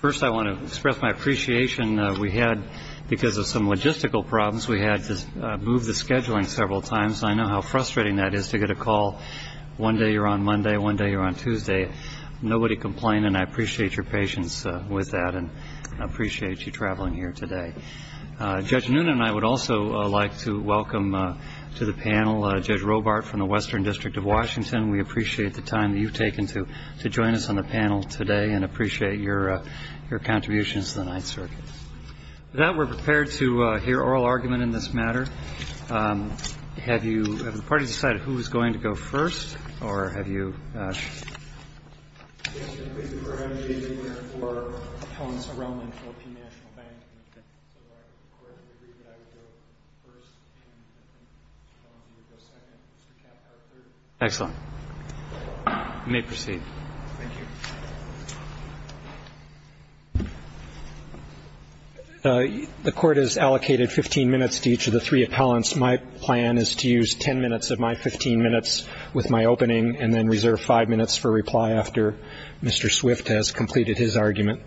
First I want to express my appreciation. We had, because of some logistical problems, we had to move the scheduling several times. I know how frustrating that is to get a call one day you're on Monday, one day you're on Tuesday. Nobody complaining. I appreciate your patience with that and I appreciate you traveling here today. Judge Noonan and I would also like to welcome to the panel Judge Robart from the Western District of Washington. We appreciate the time that you've taken to join us on the panel today and appreciate your contributions to the Ninth Circuit. With that, we're prepared to hear oral argument in this matter. Have the parties decided who is going to go first? The court has allocated 15 minutes to each of the three appellants. My plan is to use 10 minutes of my 15 minutes with my opening and then reserve 5 minutes for reply after Mr. Swift has completed his argument.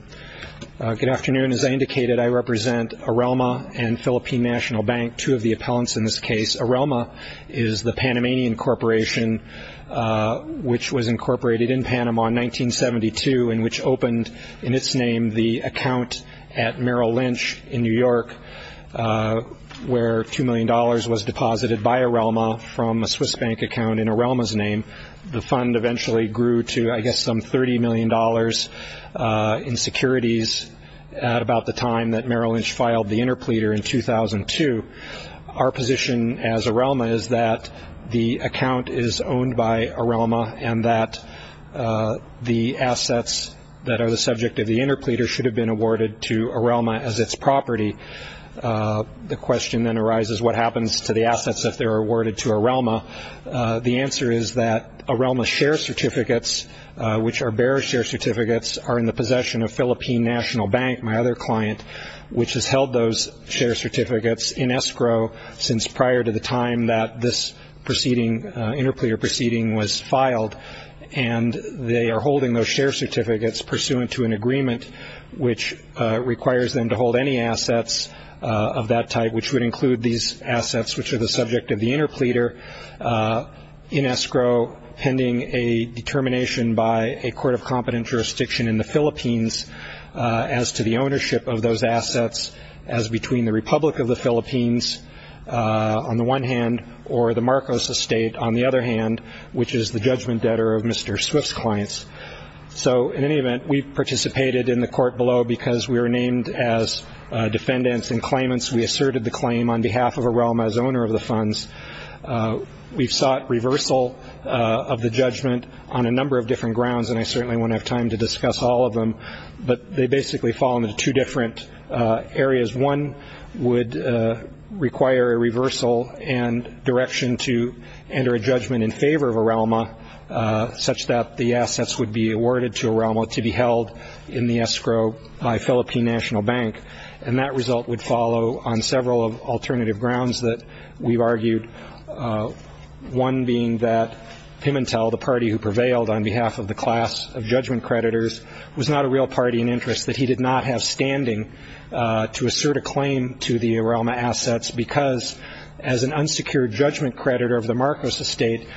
The fund eventually grew to, I guess, some $30 million in securities at about the time that Merrill Lynch filed the interpleader in 2002. Our position as Arelma is that the account is owned by Arelma and that the assets that are the subject of the interpleader should have been awarded to Arelma as its property. The question then arises, what happens to the assets if they're awarded to Arelma? The answer is that Arelma's share certificates, which are bearer share certificates, are in the possession of Philippine National Bank, my other client, which has held those share certificates in escrow since prior to the time that this interpleader proceeding was filed. They are holding those share certificates pursuant to an agreement, which requires them to hold any assets of that type, which would include these assets, which are the subject of the interpleader in escrow, pending a determination by a court of competent jurisdiction in the Philippines as to the ownership of those assets as between the Republic of the Philippines on the one hand or the Marcos estate on the other hand, which is the judgment debtor of Mr. Swift's clients. So in any event, we participated in the court below because we were named as defendants and claimants. We asserted the claim on behalf of Arelma as owner of the funds. We sought reversal of the judgment on a number of different grounds, and I certainly won't have time to discuss all of them, but they basically fall into two different areas. One would require a reversal and direction to enter a judgment in favor of Arelma, such that the assets would be awarded to Arelma to be held in the escrow by Philippine National Bank. And that result would follow on several alternative grounds that we've argued, one being that Pimentel, the party who prevailed on behalf of the class of judgment creditors, was not a real party in interest, but he did not have standing to assert a claim to the Arelma assets because as an unsecured judgment creditor of the Marcos estate,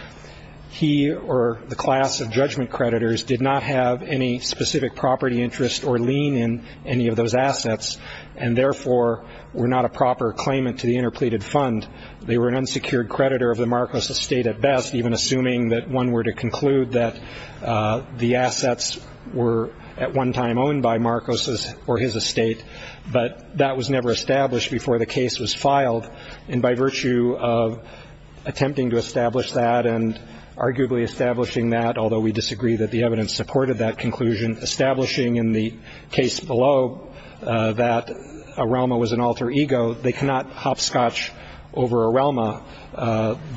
he or the class of judgment creditors did not have any specific property interest or lien in any of those assets. And therefore were not a proper claimant to the interpleaded fund. They were an unsecured creditor of the Marcos estate at best, even assuming that one were to conclude that the assets were at one time owned by Marcos or his estate, but that was never established before the case was filed. And by virtue of attempting to establish that and arguably establishing that, although we disagree that the evidence supported that conclusion, establishing in the case below that Arelma was an alter ego, they cannot hopscotch over Arelma.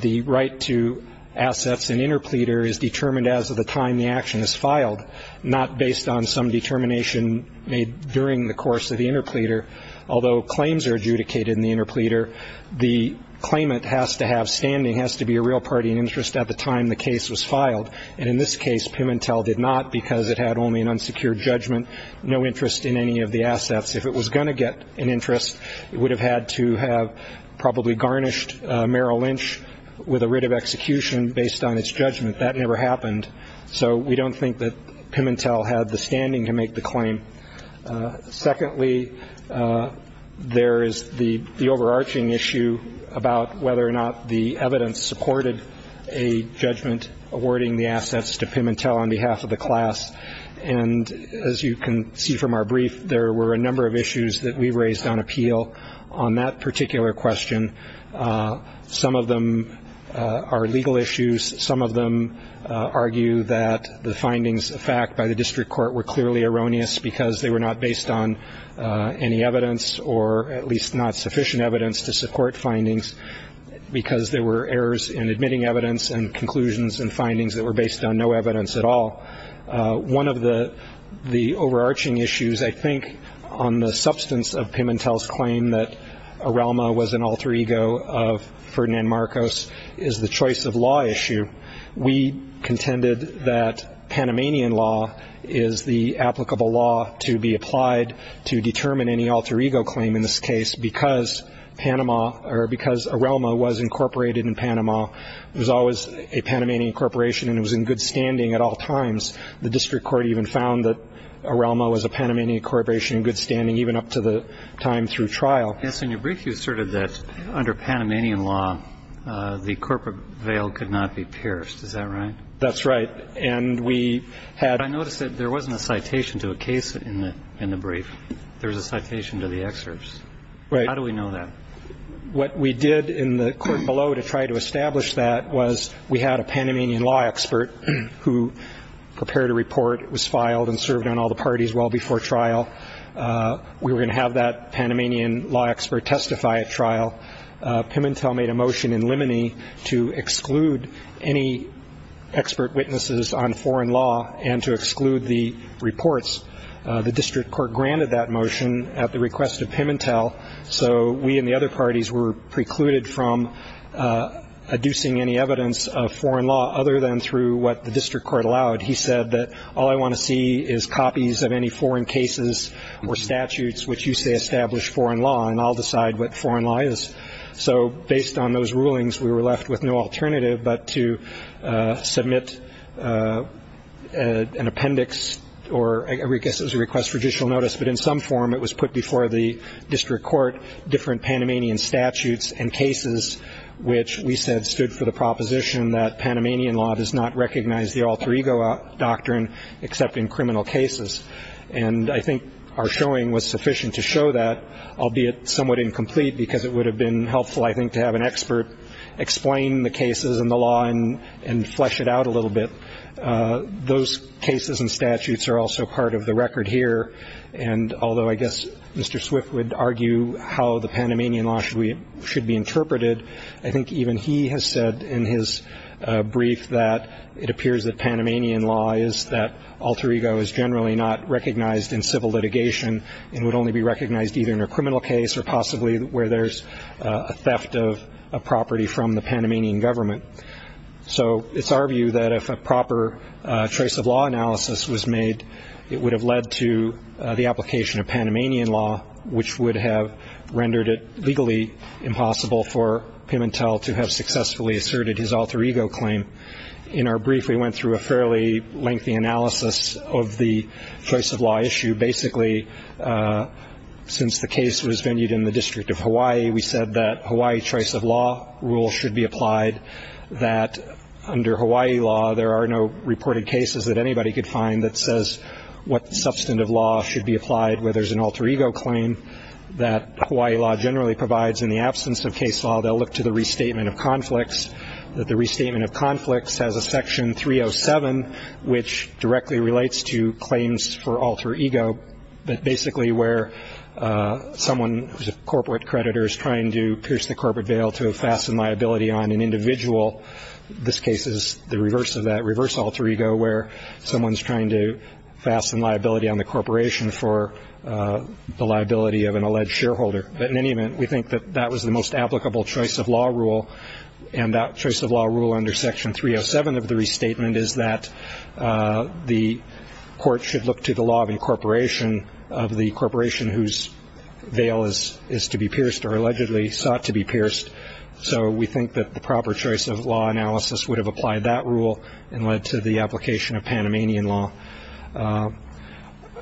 The right to assets in interpleader is determined as of the time the action is filed, not based on some determination made during the course of the interpleader. Although claims are adjudicated in the interpleader, the claimant has to have standing, has to be a real party in interest at the time the case was filed. And in this case, Pimentel did not because it had only an unsecured judgment, no interest in any of the assets. If it was going to get an interest, it would have had to have probably garnished Merrill Lynch with a writ of execution based on its judgment. That never happened, so we don't think that Pimentel had the standing to make the claim. Secondly, there is the overarching issue about whether or not the evidence supported a judgment awarding the assets to Pimentel on behalf of the class. And as you can see from our brief, there were a number of issues that we raised on appeal on that particular question. Some of them are legal issues. Some of them argue that the findings of fact by the district court were clearly erroneous because they were not based on any evidence, or at least not sufficient evidence to support findings because there were errors in admitting evidence and conclusions and findings that were based on no evidence at all. One of the overarching issues, I think, on the substance of Pimentel's claim that Arelma was an alter ego of Ferdinand Marcos is the choice of law issue. We contended that Panamanian law is the applicable law to be applied to determine any alter ego claim in this case because Arelma was incorporated in Panama. It was always a Panamanian corporation and it was in good standing at all times. The district court even found that Arelma was a Panamanian corporation in good standing even up to the time through trial. Yes, in your brief you asserted that under Panamanian law, the corporate veil could not be pierced. Is that right? That's right. But I noticed that there wasn't a citation to a case in the brief. There was a citation to the excerpts. How do we know that? What we did in the court below to try to establish that was we had a Panamanian law expert who prepared a report. It was filed and served on all the parties well before trial. We were going to have that Panamanian law expert testify at trial. Pimentel made a motion in limine to exclude any expert witnesses on foreign law and to exclude the reports. The district court granted that motion at the request of Pimentel. So we and the other parties were precluded from adducing any evidence of foreign law other than through what the district court allowed. He said that all I want to see is copies of any foreign cases or statutes which used to establish foreign law and I'll decide what foreign law is. So based on those rulings, we were left with no alternative but to submit an appendix or I guess it was a request for judicial notice, but in some form it was put before the district court, different Panamanian statutes and cases, which we said stood for the proposition that Panamanian law does not recognize the alter ego doctrine except in criminal cases. And I think our showing was sufficient to show that, albeit somewhat incomplete, because it would have been helpful I think to have an expert explain the cases and the law and flesh it out a little bit. Those cases and statutes are also part of the record here. And although I guess Mr. Swift would argue how the Panamanian law should be interpreted, I think even he has said in his brief that it appears that Panamanian law is that alter ego is generally not recognized in civil litigation and would only be recognized either in a criminal case or possibly where there's a theft of a property from the Panamanian government. So it's our view that if a proper trace of law analysis was made, it would have led to the application of Panamanian law, which would have rendered it legally impossible for Pimentel to have successfully asserted his alter ego claim. In our brief, we went through a fairly lengthy analysis of the choice of law issue. Basically, since the case was venued in the District of Hawaii, we said that Hawaii choice of law rule should be applied, that under Hawaii law there are no reported cases that anybody could find that says what substantive law should be applied, where there's an alter ego claim that Hawaii law generally provides in the absence of case law. They'll look to the restatement of conflicts. The restatement of conflicts has a section 307, which directly relates to claims for alter ego, but basically where someone who's a corporate creditor is trying to pierce the corporate veil to fasten liability on an individual. This case is the reverse of that, reverse alter ego, where someone's trying to fasten liability on the corporation for the liability of an alleged shareholder. But in any event, we think that that was the most applicable choice of law rule, and that choice of law rule under section 307 of the restatement is that the court should look to the law of incorporation of the corporation whose veil is to be pierced or allegedly sought to be pierced. So we think that the proper choice of law analysis would have applied that rule and led to the application of Panamanian law.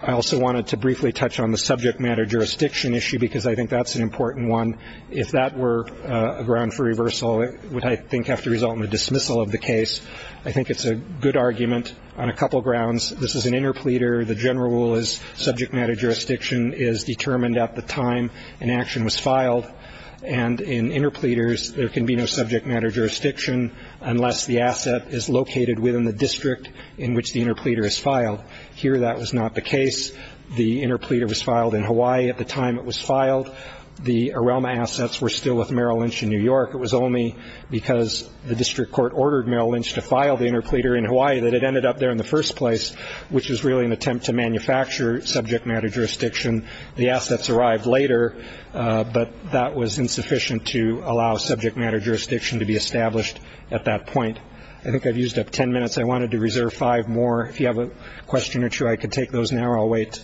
I also wanted to briefly touch on the subject matter jurisdiction issue, because I think that's an important one. If that were a ground for reversal, it would, I think, have to result in the dismissal of the case. I think it's a good argument on a couple grounds. This is an interpleader. The general rule is subject matter jurisdiction is determined at the time an action was filed, and in interpleaders there can be no subject matter jurisdiction unless the asset is located within the district in which the interpleader is filed. Here that was not the case. The interpleader was filed in Hawaii at the time it was filed. The Arelma assets were still with Merrill Lynch in New York. It was only because the district court ordered Merrill Lynch to file the interpleader in Hawaii that it ended up there in the first place, which is really an attempt to manufacture subject matter jurisdiction. The assets arrived later, but that was insufficient to allow subject matter jurisdiction to be established at that point. I think I've used up 10 minutes. I wanted to reserve five more. If you have a question or two, I can take those now or I'll wait.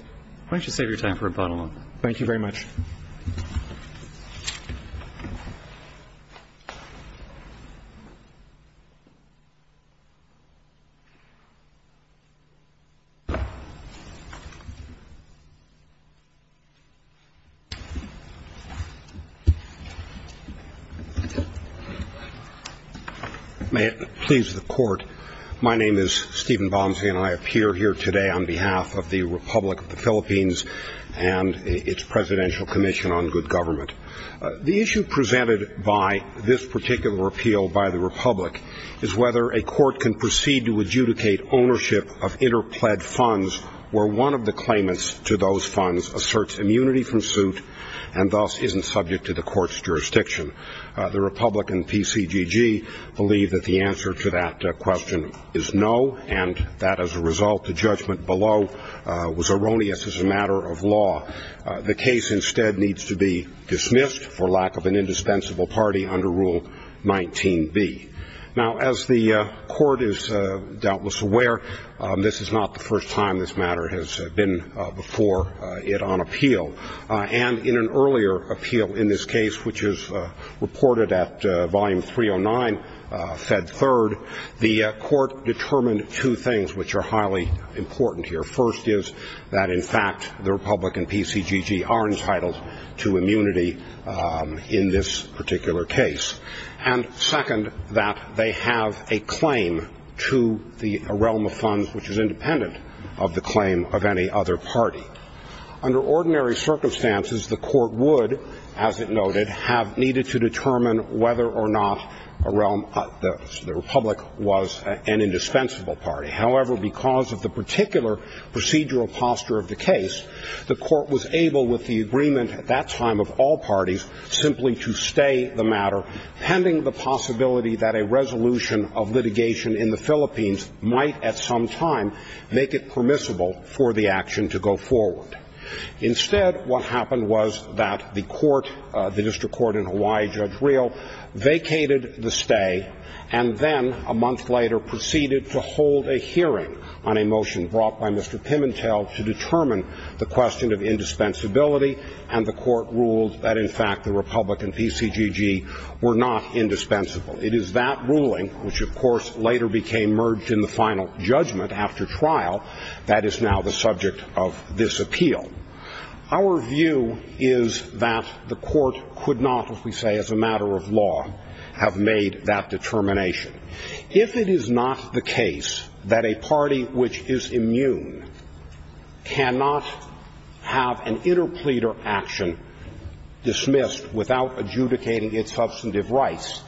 Why don't you take your time for a follow-up? Thank you very much. May it please the court. My name is Stephen Bonsi, and I appear here today on behalf of the Republic of the Philippines and its Presidential Commission on Good Government. The issue presented by this particular appeal by the Republic is whether a court can proceed to adjudicate ownership of interpled funds where one of the claimants to those funds asserts immunity from suit and thus isn't subject to the court's jurisdiction. The Republican PCGG believe that the answer to that question is no, and that, as a result, the judgment below was erroneous as a matter of law. The case instead needs to be dismissed for lack of an indispensable party under Rule 19B. Now, as the court is doubtless aware, this is not the first time this matter has been before it on appeal. And in an earlier appeal in this case, which is reported at Volume 309, Fed Third, the court determined two things which are highly important here. First is that, in fact, the Republican PCGG are entitled to immunity in this particular case. And second, that they have a claim to a realm of funds which is independent of the claim of any other party. Under ordinary circumstances, the court would, as it noted, have needed to determine whether or not the Republic was an indispensable party. However, because of the particular procedural posture of the case, the court was able, with the agreement at that time of all parties, simply to stay the matter, pending the possibility that a resolution of litigation in the Philippines might, at some time, make it permissible for the action to go forward. Instead, what happened was that the court, the district court in Hawaii, Judge Riel, vacated the stay, and then, a month later, proceeded to hold a hearing on a motion brought by Mr. Pimentel to determine the question of indispensability. And the court ruled that, in fact, the Republican PCGG were not indispensable. It is that ruling, which, of course, later became merged in the final judgment after trial, that is now the subject of this appeal. Our view is that the court could not, as we say, as a matter of law, have made that determination. If it is not the case that a party which is immune cannot have an interpleader action dismissed without adjudicating its substantive rights,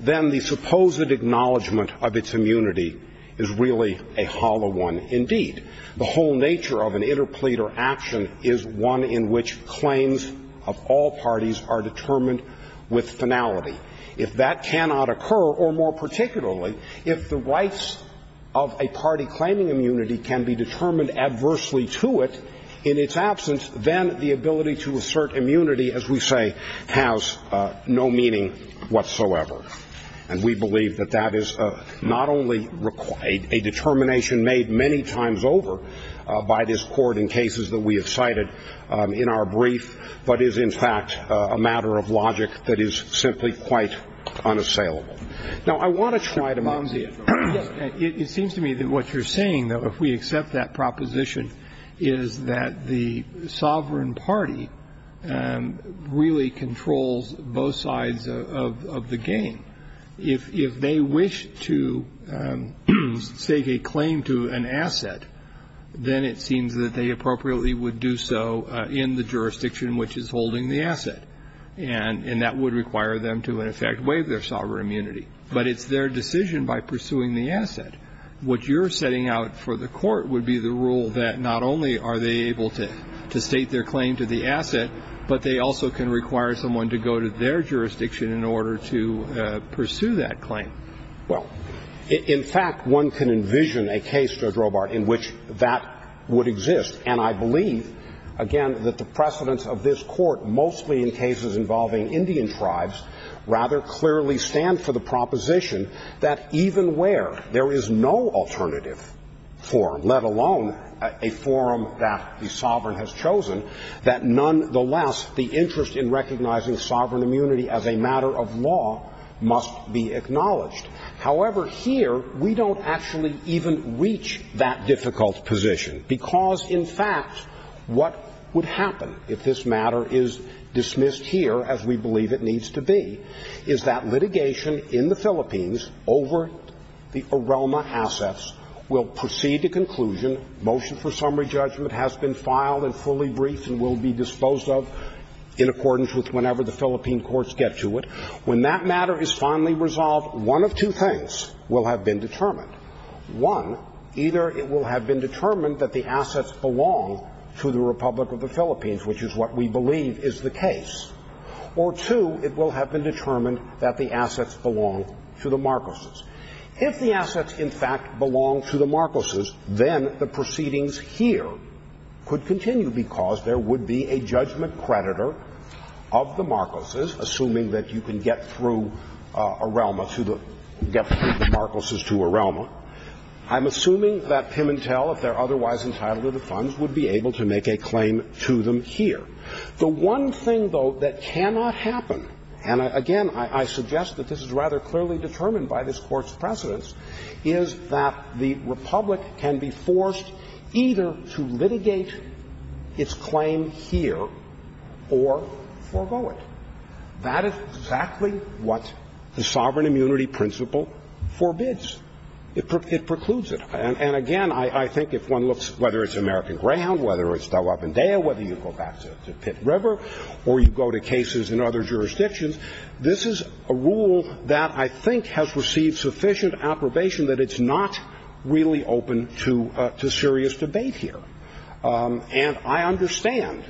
then the supposed acknowledgment of its immunity is really a hollow one indeed. The whole nature of an interpleader action is one in which claims of all parties are determined with finality. If that cannot occur, or more particularly, if the rights of a party claiming immunity can be determined adversely to it in its absence, then the ability to assert immunity, as we say, has no meaning whatsoever. And we believe that that is not only a determination made many times over by this court in cases that we have cited in our brief, but is, in fact, a matter of logic that is simply quite unassailable. Now, I want to try to mount it. It seems to me that what you're saying, though, if we accept that proposition, is that the sovereign party really controls both sides of the game. If they wish to stake a claim to an asset, then it seems that they appropriately would do so in the jurisdiction which is holding the asset, and that would require them to, in effect, waive their sovereign immunity. But it's their decision by pursuing the asset. What you're setting out for the court would be the rule that not only are they able to stake their claim to the asset, but they also can require someone to go to their jurisdiction in order to pursue that claim. Well, in fact, one can envision a case, Judge Robart, in which that would exist. And I believe, again, that the precedents of this court, mostly in cases involving Indian tribes, rather clearly stand for the proposition that even where there is no alternative forum, let alone a forum that the sovereign has chosen, that nonetheless the interest in recognizing sovereign immunity as a matter of law must be acknowledged. However, here, we don't actually even reach that difficult position because, in fact, what would happen if this matter is dismissed here, as we believe it needs to be, is that litigation in the Philippines over the Aroma assets will proceed to conclusion. Motion for summary judgment has been filed and fully briefed and will be disposed of in accordance with whenever the Philippine courts get to it. When that matter is finally resolved, one of two things will have been determined. One, either it will have been determined that the assets belong to the Republic of the Philippines, which is what we believe is the case, or two, it will have been determined that the assets belong to the Marcoses. If the assets, in fact, belong to the Marcoses, then the proceedings here could continue because there would be a judgment creditor of the Marcoses, assuming that you can get through the Marcoses to Aroma. I'm assuming that Pimentel, if they're otherwise entitled to the funds, would be able to make a claim to them here. The one thing, though, that cannot happen, and again, I suggest that this is rather clearly determined by this court's precedence, is that the Republic can be forced either to litigate its claim here or forego it. That is exactly what the sovereign immunity principle forbids. It precludes it. And again, I think if one looks, whether it's American Grand, whether it's Delap and Dale, whether you go back to Pitt River or you go to cases in other jurisdictions, this is a rule that I think has received sufficient approbation that it's not really open to serious debate here. And I understand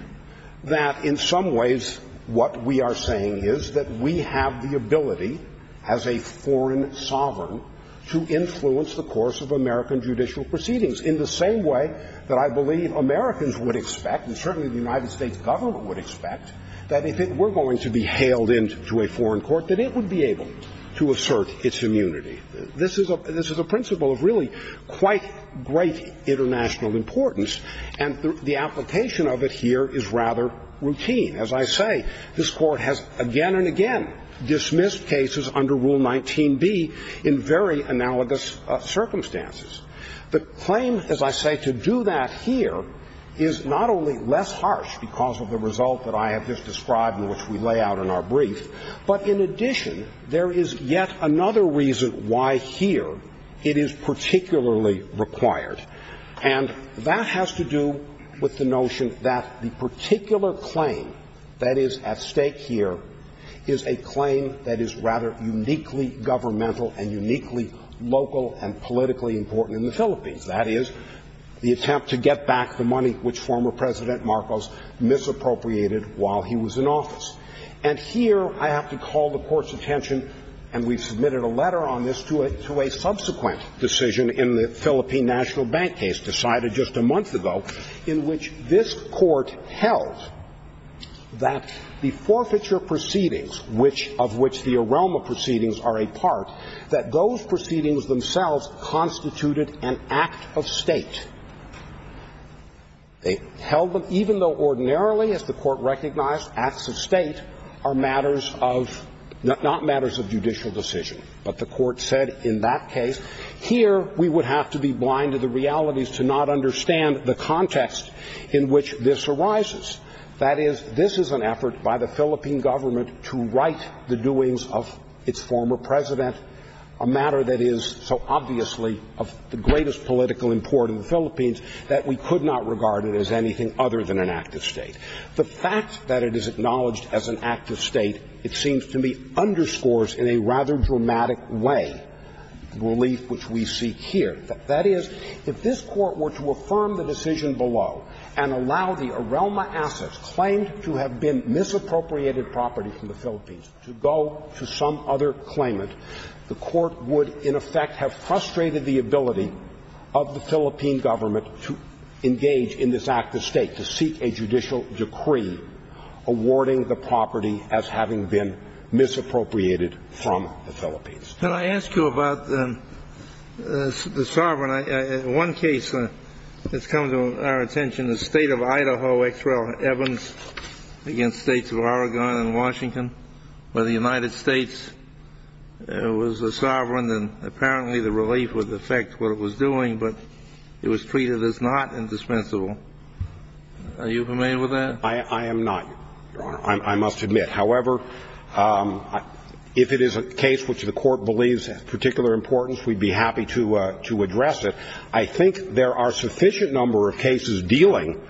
that in some ways what we are saying is that we have the ability, as a foreign sovereign, to influence the course of American judicial proceedings in the same way that I believe Americans would expect, and certainly the United States government would expect, that if it were going to be hailed into a foreign court, that it would be able to assert its immunity. This is a principle of really quite great international importance, and the application of it here is rather routine. As I say, this court has again and again dismissed cases under Rule 19B in very analogous circumstances. The claim, as I say, to do that here is not only less harsh because of the result that I have just described and which we lay out in our brief, but in addition, there is yet another reason why here it is particularly required. And that has to do with the notion that the particular claim that is at stake here is a claim that is rather uniquely governmental and uniquely local and politically important in the Philippines. That is, the attempt to get back the money which former President Marcos misappropriated while he was in office. And here I have to call the court's attention, and we've submitted a letter on this, to a subsequent decision in the Philippine National Bank case decided just a month ago, in which this court held that the forfeiture proceedings, of which the aroma proceedings are a part, that those proceedings themselves constituted an act of state. They held them, even though ordinarily, as the court recognized, acts of state are not matters of judicial decision. But the court said in that case, here we would have to be blind to the realities to not understand the context in which this arises. That is, this is an effort by the Philippine government to right the doings of its former president, a matter that is so obviously of the greatest political importance in the Philippines that we could not regard it as anything other than an act of state. The fact that it is acknowledged as an act of state, it seems to me, underscores in a rather dramatic way the relief which we seek here. That is, if this court were to affirm the decision below and allow the aroma assets claimed to have been misappropriated property from the Philippines to go to some other claimant, the court would, in effect, have frustrated the ability of the Philippine government to engage in this act of state, to seek a judicial decree awarding the property as having been misappropriated from the Philippines. Can I ask you about the sovereign? In one case that's come to our attention, the state of Idaho, H.L. Evans, against states of Oregon and Washington, where the United States was the sovereign, and apparently the relief would affect what it was doing, but it was treated as not indispensable. Are you familiar with that? I am not, Your Honor. I must admit. However, if it is a case which the court believes of particular importance, we'd be happy to address it. I think there are a sufficient number of cases dealing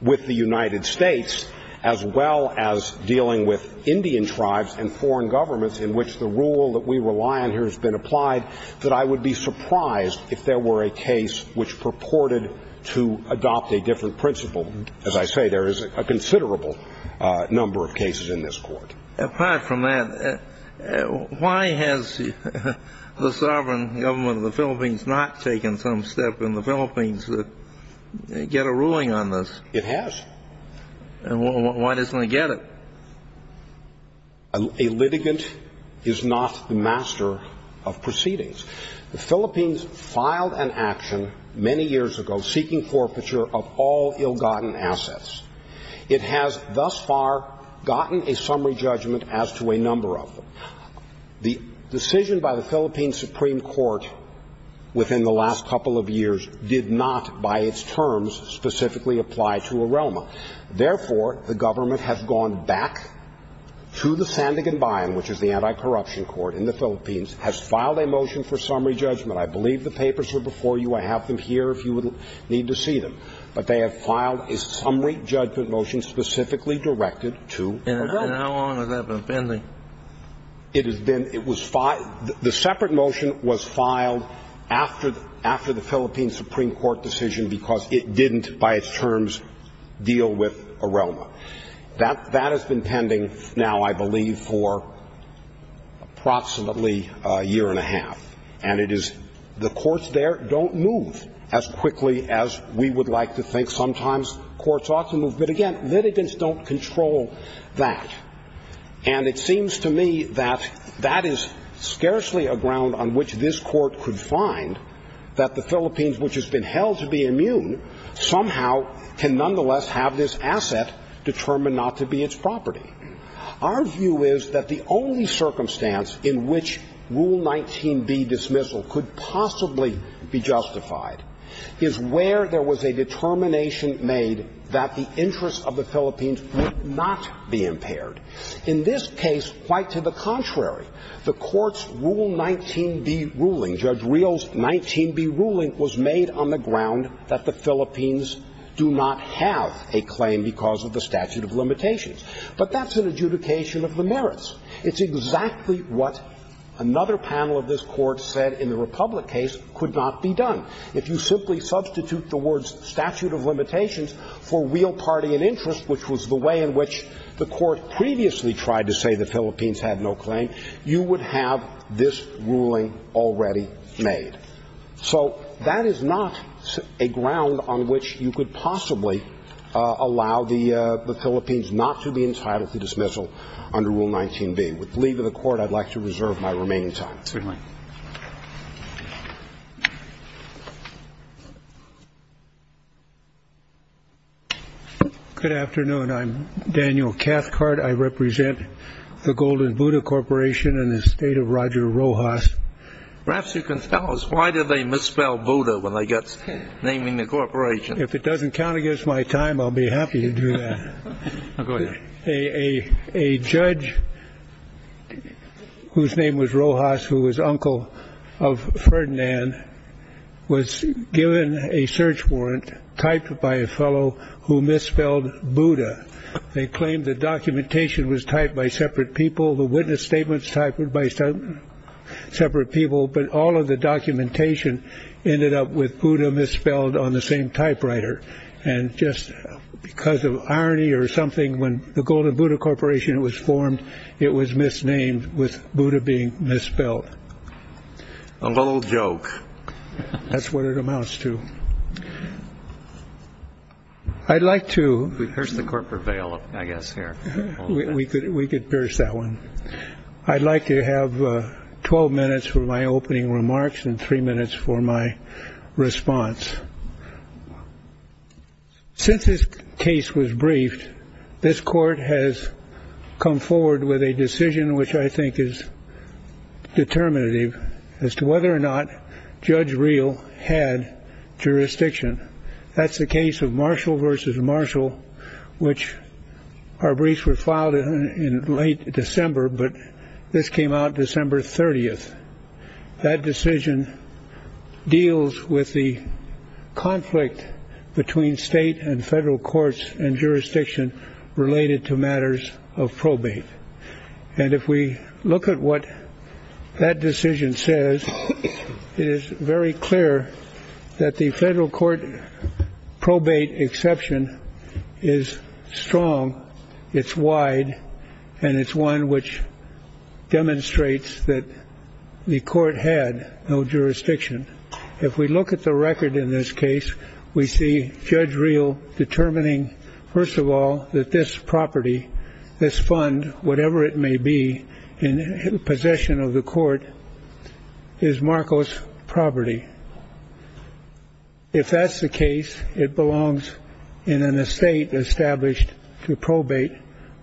with the United States, as well as dealing with Indian tribes and foreign governments in which the rule that we rely on here has been applied, that I would be surprised if there were a case which purported to adopt a different principle. As I say, there is a considerable number of cases in this court. Apart from that, why has the sovereign government of the Philippines not taken some step in the Philippines to get a ruling on this? It has. Why doesn't it get it? A litigant is not the master of proceedings. The Philippines filed an action many years ago seeking forfeiture of all ill-gotten assets. It has thus far gotten a summary judgment as to a number of them. The decision by the Philippine Supreme Court within the last couple of years did not, by its terms, specifically apply to Arelma. Therefore, the government has gone back to the Sandigan Bayan, which is the anti-corruption court in the Philippines, has filed a motion for summary judgment. I believe the papers are before you. I have them here if you need to see them. But they have filed a summary judgment motion specifically directed to Arelma. And how long has that been pending? The separate motion was filed after the Philippine Supreme Court decision because it didn't, by its terms, deal with Arelma. That has been pending now, I believe, for approximately a year and a half. And the courts there don't move as quickly as we would like to think. Sometimes courts ought to move. But, again, litigants don't control that. And it seems to me that that is scarcely a ground on which this court could find that the Philippines, which has been held to be immune, somehow can nonetheless have this asset determined not to be its property. Our view is that the only circumstance in which Rule 19B dismissal could possibly be justified is where there was a determination made that the interests of the Philippines would not be impaired. In this case, quite to the contrary, the court's Rule 19B ruling, Judge Riel's 19B ruling, was made on the ground that the Philippines do not have a claim because of the statute of limitations. But that's an adjudication of the merits. It's exactly what another panel of this court said in the Republic case could not be done. If you simply substitute the words statute of limitations for real party and interest, which was the way in which the court previously tried to say the Philippines had no claim, you would have this ruling already made. So that is not a ground on which you could possibly allow the Philippines not to be entitled to dismissal under Rule 19B. With the leave of the court, I'd like to reserve my remaining time. Good afternoon. I'm Daniel Cathcart. I represent the Golden Buddha Corporation in the state of Roger Rojas. Perhaps you can tell us why do they misspell Buddha when they get naming the corporation? If it doesn't count against my time, I'll be happy to do that. A judge whose name was Rojas, who was uncle of Ferdinand, was given a search warrant typed by a fellow who misspelled Buddha. They claimed the documentation was typed by separate people. The witness statements typed by separate people. But all of the documentation ended up with Buddha misspelled on the same typewriter. And just because of irony or something, when the Golden Buddha Corporation was formed, it was misnamed with Buddha being misspelled. A little joke. That's what it amounts to. I'd like to... We've pierced the corporate veil, I guess, here. We could pierce that one. I'd like to have 12 minutes for my opening remarks and three minutes for my response. Since this case was briefed, this court has come forward with a decision which I think is determinative as to whether or not Judge Reel had jurisdiction. That's the case of Marshall v. Marshall, which our briefs were filed in late December, but this came out December 30th. That decision deals with the conflict between state and federal courts and jurisdiction related to matters of probate. And if we look at what that decision says, it is very clear that the federal court probate exception is strong, it's wide, and it's one which demonstrates that the court had no jurisdiction. If we look at the record in this case, we see Judge Reel determining, first of all, that this property, this fund, whatever it may be in possession of the court, is Marcos property. If that's the case, it belongs in an estate established to probate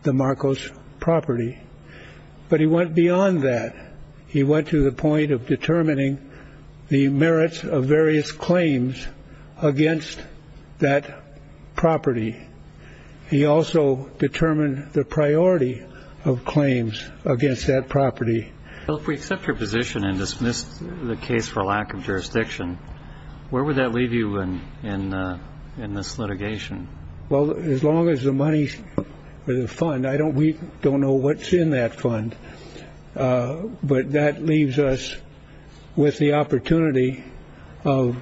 the Marcos property. But he went beyond that. He went to the point of determining the merits of various claims against that property. He also determined the priority of claims against that property. If we accept your position and dismiss the case for lack of jurisdiction, where would that leave you in this litigation? Well, as long as the money for the fund, we don't know what's in that fund, but that leaves us with the opportunity of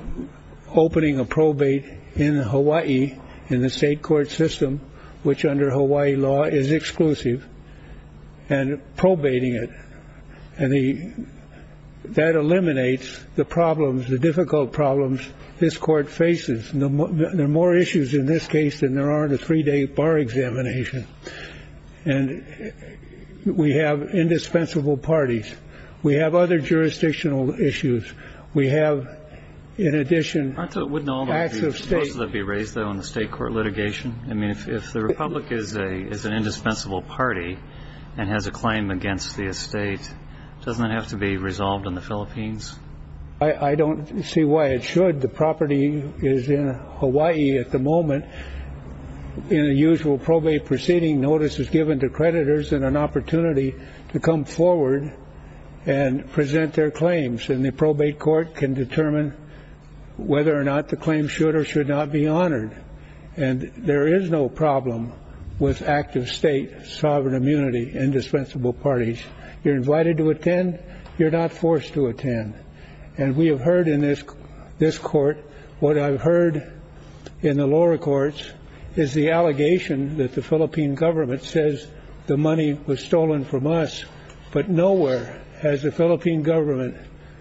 opening a probate in Hawaii in the state court system, which under Hawaii law is exclusive and probating it. And that eliminates the problems, the difficult problems this court faces. There are more issues in this case than there are in a three day bar examination. And we have indispensable parties. We have other jurisdictional issues. We have, in addition, acts of state. Wouldn't all of your charges be raised, though, in the state court litigation? I mean, if the Republic is an indispensable party and has a claim against the estate, doesn't that have to be resolved in the Philippines? I don't see why it should. The property is in Hawaii at the moment. In the usual probate proceeding, notice is given to creditors and an opportunity to come forward and present their claims. And the probate court can determine whether or not the claim should or should not be honored. And there is no problem with active state sovereign immunity, indispensable parties. You're invited to attend. You're not forced to attend. And we have heard in this this court what I've heard in the lower courts is the allegation that the Philippine government says the money was stolen from us. But nowhere has the Philippine government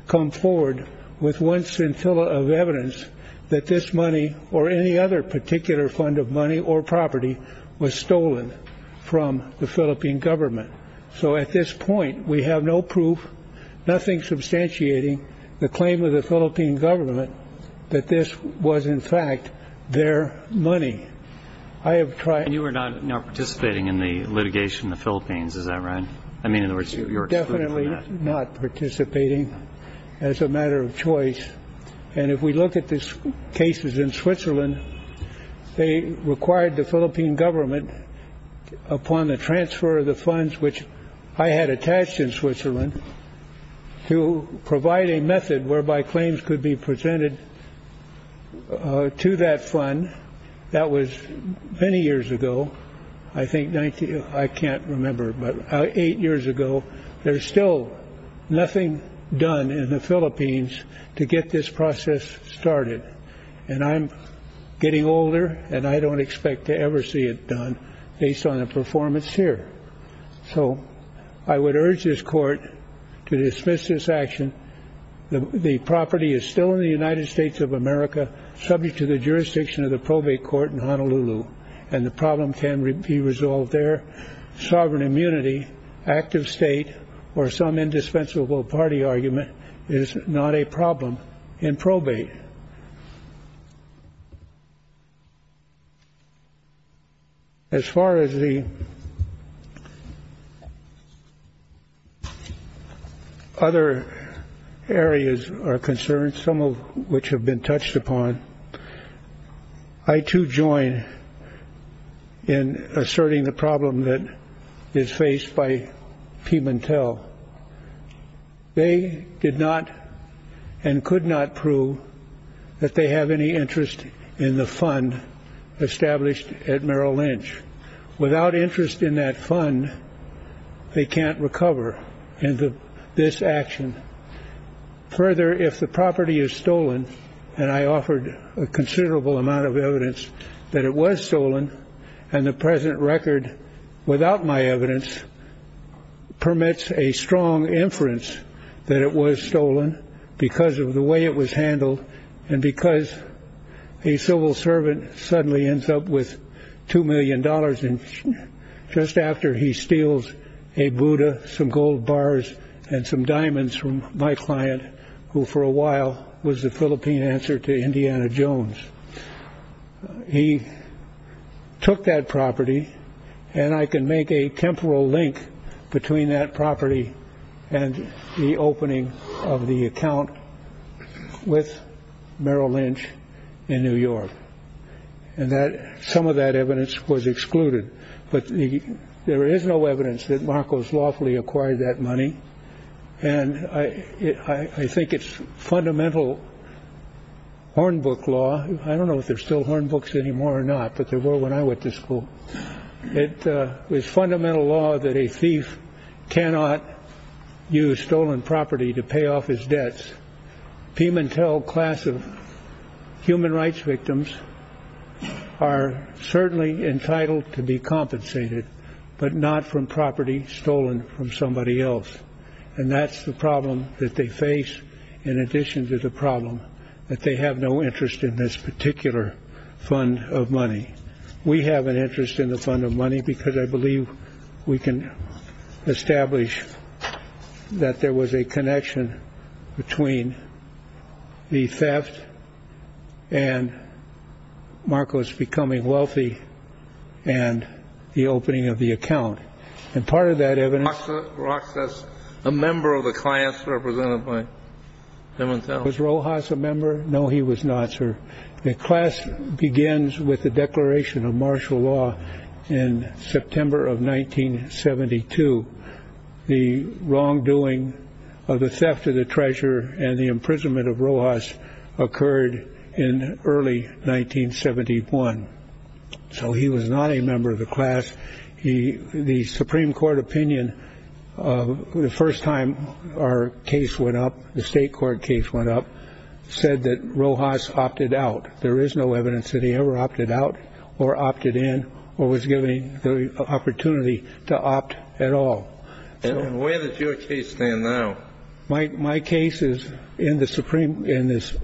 come forward with one scintilla of evidence that this money or any other particular fund of money or property was stolen from the Philippine government. So at this point, we have no proof, nothing substantiating the claim of the Philippine government that this was, in fact, their money. I have tried. You were not participating in the litigation in the Philippines. Is that right? I mean, you're definitely not participating as a matter of choice. And if we look at this cases in Switzerland, they required the Philippine government upon the transfer of the funds, which I had attached in Switzerland to provide a method whereby claims could be presented to that fund. That was many years ago. I think I can't remember, but eight years ago, there's still nothing done in the Philippines to get this process started. And I'm getting older and I don't expect to ever see it done based on a performance here. So I would urge this court to dismiss this action. The property is still in the United States of America, subject to the jurisdiction of the probate court in Honolulu. And the problem can be resolved there. Sovereign immunity, active state or some indispensable party argument is not a problem in probate. As far as the. Other areas are concerned, some of which have been touched upon. I, too, join in asserting the problem that is faced by Pimentel. They did not and could not prove that they have any interest in the fund established at Merrill Lynch without interest in that fund. They can't recover into this action further if the property is stolen. And I offered a considerable amount of evidence that it was stolen. And the present record without my evidence permits a strong inference that it was stolen because of the way it was handled. And because a civil servant suddenly ends up with two million dollars in just after he steals a Buddha, some gold bars and some diamonds from my client, who for a while was the Philippine answer to Indiana Jones. He took that property and I can make a temporal link between that property and the opening of the account with Merrill Lynch in New York and that some of that evidence was excluded. But there is no evidence that Marcos lawfully acquired that money. And I think it's fundamental. Hornbook law. I don't know if they're still hornbooks anymore or not, but they were when I went to school. It was fundamental law that a thief cannot use stolen property to pay off his debts. Pimentel class of human rights victims are certainly entitled to be compensated, but not from property stolen from somebody else. And that's the problem that they face. In addition to the problem that they have no interest in this particular fund of money. We have an interest in the fund of money because I believe we can establish that there was a connection between the theft and Marcos becoming wealthy and the opening of the account. And part of that evidence process, a member of the class represented by Pimentel. Was Rojas a member? No, he was not, sir. The class begins with the declaration of martial law in September of 1972. The wrongdoing of the theft of the treasure and the imprisonment of Rojas occurred in early 1971. So he was not a member of the class. He the Supreme Court opinion. The first time our case went up, the state court case went up, said that Rojas opted out. There is no evidence that he ever opted out or opted in or was given the opportunity to opt at all. And where does your case stand now? My case is in the Supreme in this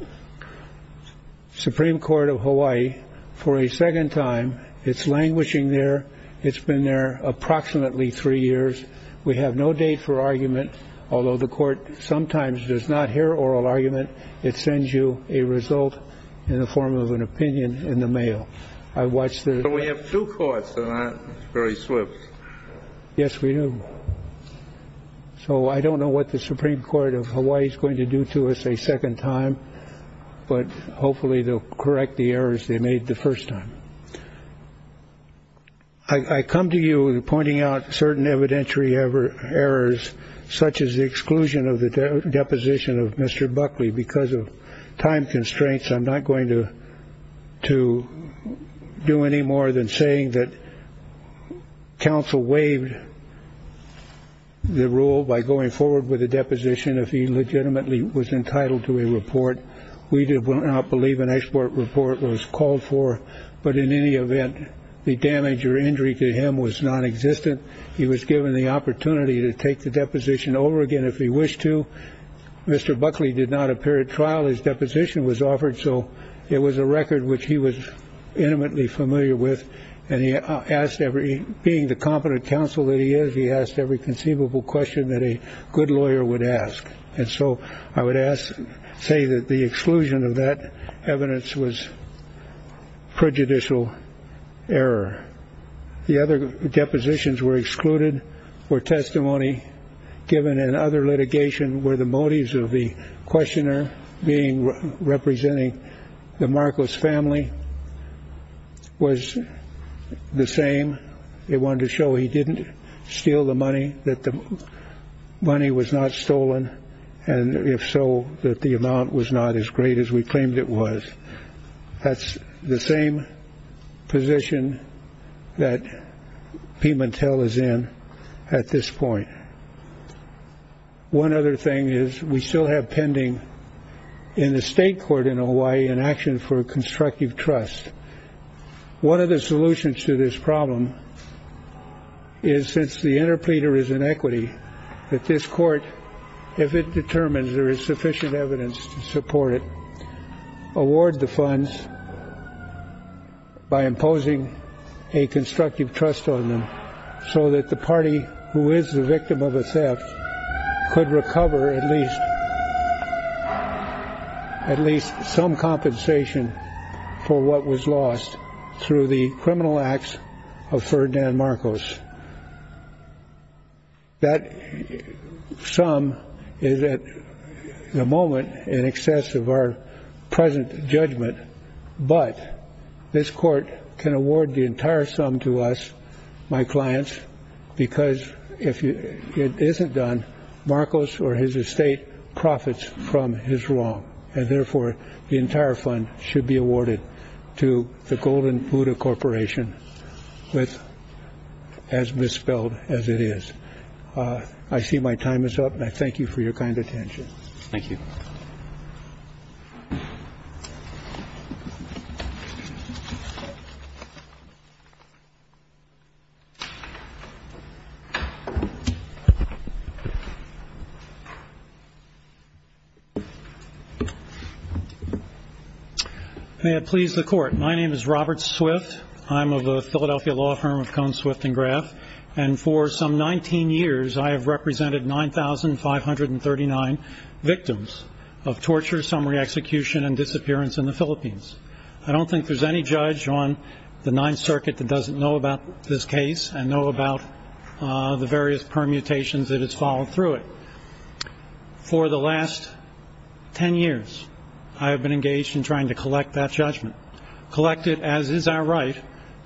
Supreme Court of Hawaii for a second time. It's languishing there. It's been there approximately three years. We have no date for argument, although the court sometimes does not hear oral argument. It sends you a result in the form of an opinion in the mail. So we have two courts, very swift. Yes, we do. So I don't know what the Supreme Court of Hawaii is going to do to us a second time. But hopefully they'll correct the errors they made the first time. I come to you pointing out certain evidentiary errors, such as the exclusion of the deposition of Mr. Buckley because of time constraints. I'm not going to do any more than saying that counsel waived the rule by going forward with a deposition if he legitimately was entitled to a report. We do not believe an export report was called for. But in any event, the damage or injury to him was nonexistent. He was given the opportunity to take the deposition over again if he wished to. Mr. Buckley did not appear at trial. His deposition was offered. So it was a record which he was intimately familiar with. And he asked every being the competent counsel that he is. He asked every conceivable question that a good lawyer would ask. And so I would ask say that the exclusion of that evidence was prejudicial error. The other depositions were excluded or testimony given in other litigation where the motives of the questioner being representing the Marcos family was the same. They wanted to show he didn't steal the money, that the money was not stolen. And if so, that the amount was not as great as we claimed it was. That's the same position that Pimentel is in at this point. One other thing is we still have pending in the state court in Hawaii an action for constructive trust. One of the solutions to this problem is since the interpleader is an equity that this court, if it determines there is sufficient evidence to support it, award the funds by imposing a constructive trust on them so that the party who is the victim of a theft could recover at least some compensation for what was lost through the criminal acts of Ferdinand Marcos. That sum is at the moment in excess of our present judgment, but this court can award the entire sum to us, my clients, because if it isn't done, Marcos or his estate profits from his wrong. And therefore, the entire fund should be awarded to the Golden Buddha Corporation with as misspelled as it is. I see my time is up and I thank you for your kind attention. Thank you. May it please the court. My name is Robert Swift. I'm of a Philadelphia law firm of Cone, Swift & Graf. And for some 19 years, I have represented 9,539 victims of torture, summary execution, and disappearance in the Philippines. I don't think there's any judge on the Ninth Circuit that doesn't know about this case and know about the various permutations that has fallen through it. For the last 10 years, I have been engaged in trying to collect that judgment. Collect it as is our right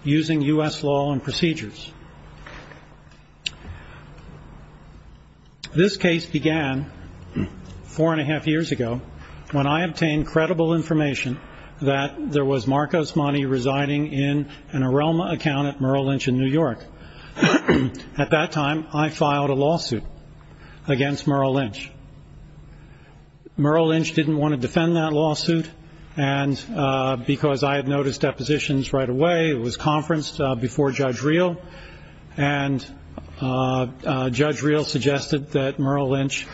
using U.S. law and procedures. This case began four and a half years ago when I obtained credible information that there was Marcos Mani residing in an Arelma account at Merrill Lynch in New York. At that time, I filed a lawsuit against Merrill Lynch. Merrill Lynch didn't want to defend that lawsuit. And because I had noticed depositions right away, it was conferenced before Judge Reel. And Judge Reel suggested that Merrill Lynch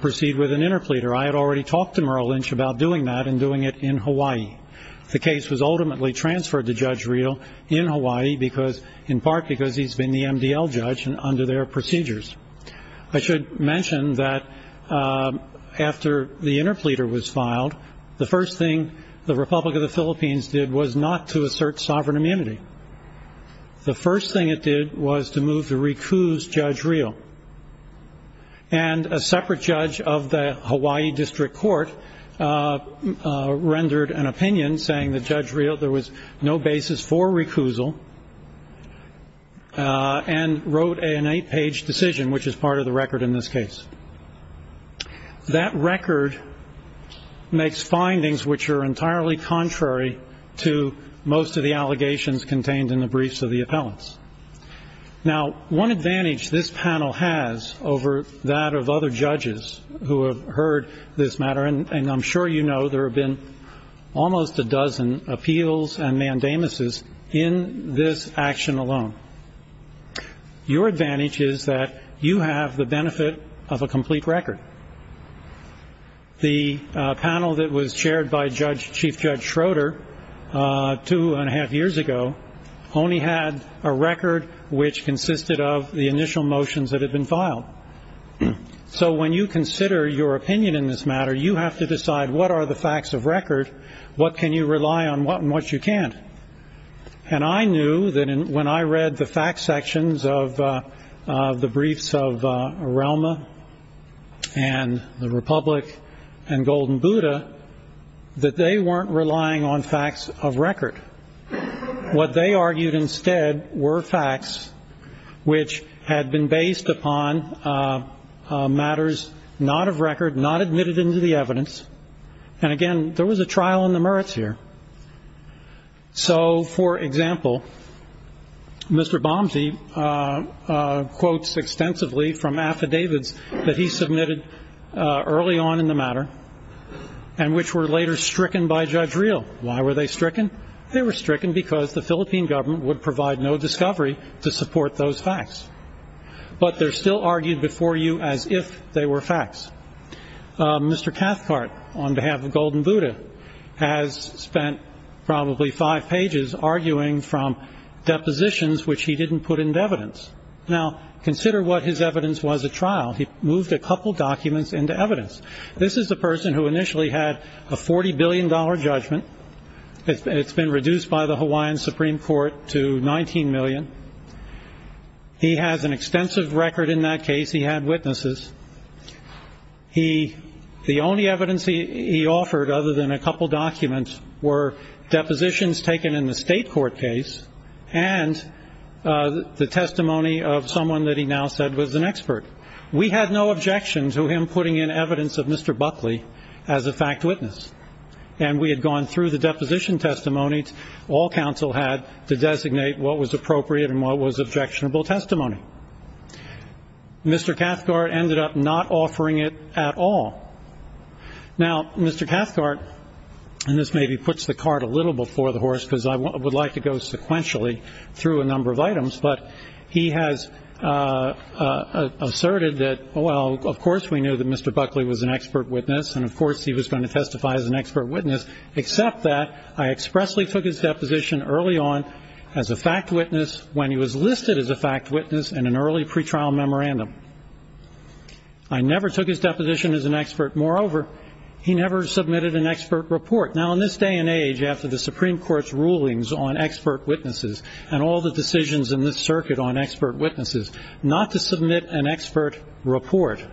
proceed with an interpleader. I had already talked to Merrill Lynch about doing that and doing it in Hawaii. The case was ultimately transferred to Judge Reel in Hawaii in part because he's been the MDL judge under their procedures. I should mention that after the interpleader was filed, the first thing the Republic of the Philippines did was not to assert sovereign immunity. The first thing it did was to move to recuse Judge Reel. And a separate judge of the Hawaii District Court rendered an opinion saying that Judge Reel, there was no basis for recusal and wrote an eight-page decision, which is part of the record in this case. That record makes findings which are entirely contrary to most of the allegations contained in the briefs of the appellants. Now, one advantage this panel has over that of other judges who have heard this matter, and I'm sure you know there have been almost a dozen appeals and mandamuses in this action alone, your advantage is that you have the benefit of a complete record. The panel that was chaired by Chief Judge Schroeder two and a half years ago only had a record which consisted of the initial motions that had been filed. So when you consider your opinion in this matter, you have to decide what are the facts of record, what can you rely on, what you can't. And I knew that when I read the fact sections of the briefs of Relma and the Republic and Golden Buddha, that they weren't relying on facts of record. What they argued instead were facts which had been based upon matters not of record, not admitted into the evidence. And again, there was a trial in the merits here. So, for example, Mr. Bomsey quotes extensively from affidavits that he submitted early on in the matter and which were later stricken by Judge Reel. Why were they stricken? They were stricken because the Philippine government would provide no discovery to support those facts. But they're still argued before you as if they were facts. Mr. Cathcart, on behalf of Golden Buddha, has spent probably five pages arguing from depositions which he didn't put into evidence. Now, consider what his evidence was at trial. He moved a couple documents into evidence. This is the person who initially had a $40 billion judgment. It's been reduced by the Hawaiian Supreme Court to $19 million. He has an extensive record in that case. He had witnesses. The only evidence he offered other than a couple documents were depositions taken in the state court case and the testimony of someone that he now said was an expert. We had no objection to him putting in evidence of Mr. Buckley as a fact witness. And we had gone through the deposition testimony all counsel had to designate what was appropriate and what was objectionable testimony. Mr. Cathcart ended up not offering it at all. Now, Mr. Cathcart, and this maybe puts the cart a little before the horse because I would like to go sequentially through a number of items, but he has asserted that, well, of course we knew that Mr. Buckley was an expert witness and of course he was going to testify as an expert witness, except that I expressly took his deposition early on as a fact witness when he was listed as a fact witness in an early pretrial memorandum. I never took his deposition as an expert. Moreover, he never submitted an expert report. Now, in this day and age, after the Supreme Court's rulings on expert witnesses and all the decisions in this circuit on expert witnesses, not to submit an expert report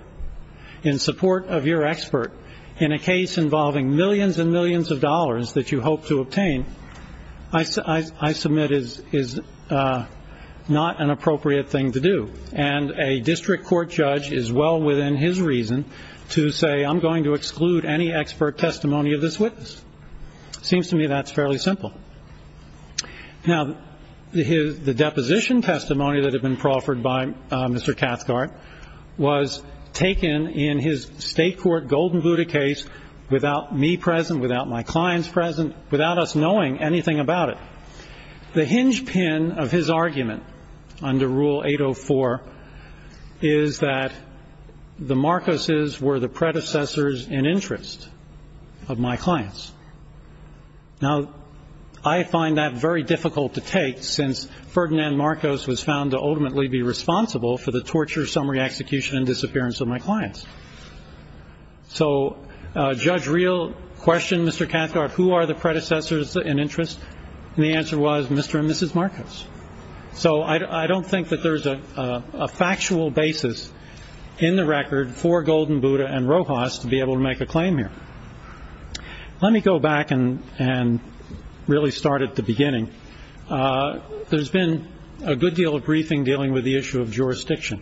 in support of your expert in a case involving millions and millions of dollars that you hope to obtain, I submit is not an appropriate thing to do. And a district court judge is well within his reason to say, I'm going to exclude any expert testimony of this witness. It seems to me that's fairly simple. Now, the deposition testimony that had been proffered by Mr. Cathcart was taken in his state court golden Buddha case without me present, without my clients present, without us knowing anything about it. The hinge pin of his argument under Rule 804 is that the Marcoses were the predecessors in interest of my clients. Now, I find that very difficult to take since Ferdinand Marcos was found to ultimately be responsible for the torture, summary execution, and disappearance of my clients. So, Judge Real questioned Mr. Cathcart, who are the predecessors in interest? And the answer was Mr. and Mrs. Marcos. So, I don't think that there's a factual basis in the record for Golden Buddha and Rojas to be able to make a claim here. Let me go back and really start at the beginning. There's been a good deal of briefing dealing with the issue of jurisdiction.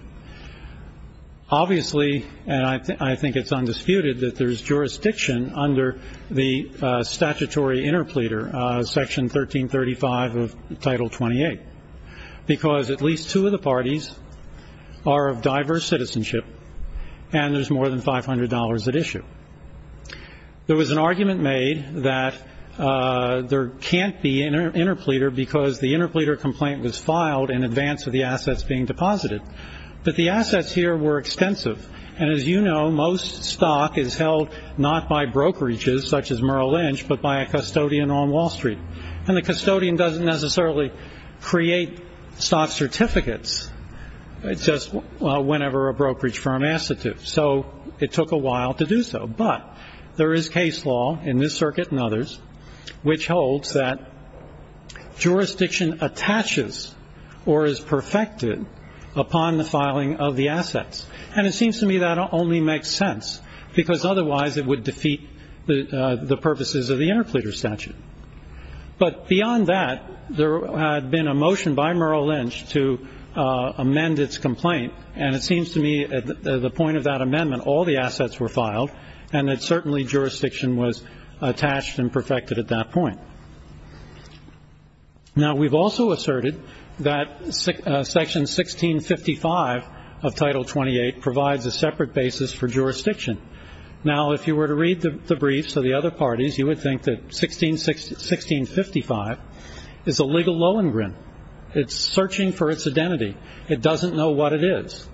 Obviously, and I think it's undisputed, that there's jurisdiction under the statutory interpleader, Section 1335 of Title 28, because at least two of the parties are of diverse citizenship and there's more than $500 at issue. There was an argument made that there can't be interpleader because the interpleader complaint was filed in advance of the assets being deposited. But the assets here were extensive. And as you know, most stock is held not by brokerages, such as Merrill Lynch, but by a custodian on Wall Street. And the custodian doesn't necessarily create soft certificates just whenever a brokerage firm asks it to. So, it took a while to do so. But there is case law in this circuit and others which holds that jurisdiction attaches or is perfected upon the filing of the assets. And it seems to me that only makes sense because otherwise it would defeat the purposes of the interpleader statute. But beyond that, there had been a motion by Merrill Lynch to amend its complaint. And it seems to me at the point of that amendment, all the assets were filed and that certainly jurisdiction was attached and perfected at that point. Now, we've also asserted that Section 1655 of Title 28 provides a separate basis for jurisdiction. Now, if you were to read the briefs of the other parties, you would think that 1655 is a legal low and grin. It's searching for its identity. It doesn't know what it is.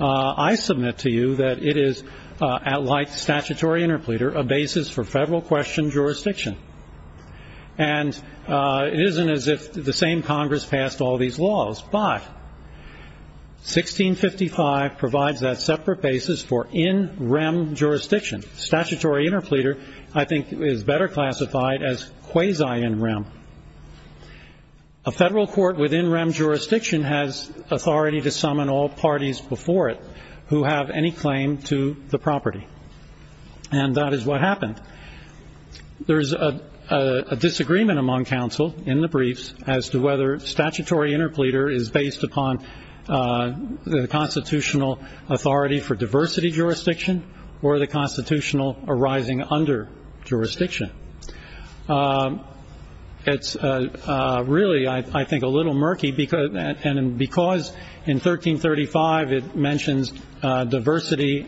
I submit to you that it is, like statutory interpleader, a basis for federal question jurisdiction. And it isn't as if the same Congress passed all these laws. But 1655 provides that separate basis for in rem jurisdiction. Statutory interpleader, I think, is better classified as quasi in rem. A federal court within rem jurisdiction has authority to summon all parties before it who have any claim to the property. And that is what happened. There is a disagreement among counsel in the briefs as to whether statutory interpleader is based upon the constitutional authority for diversity jurisdiction or the constitutional arising under jurisdiction. It's really, I think, a little murky. And because in 1335 it mentions diversity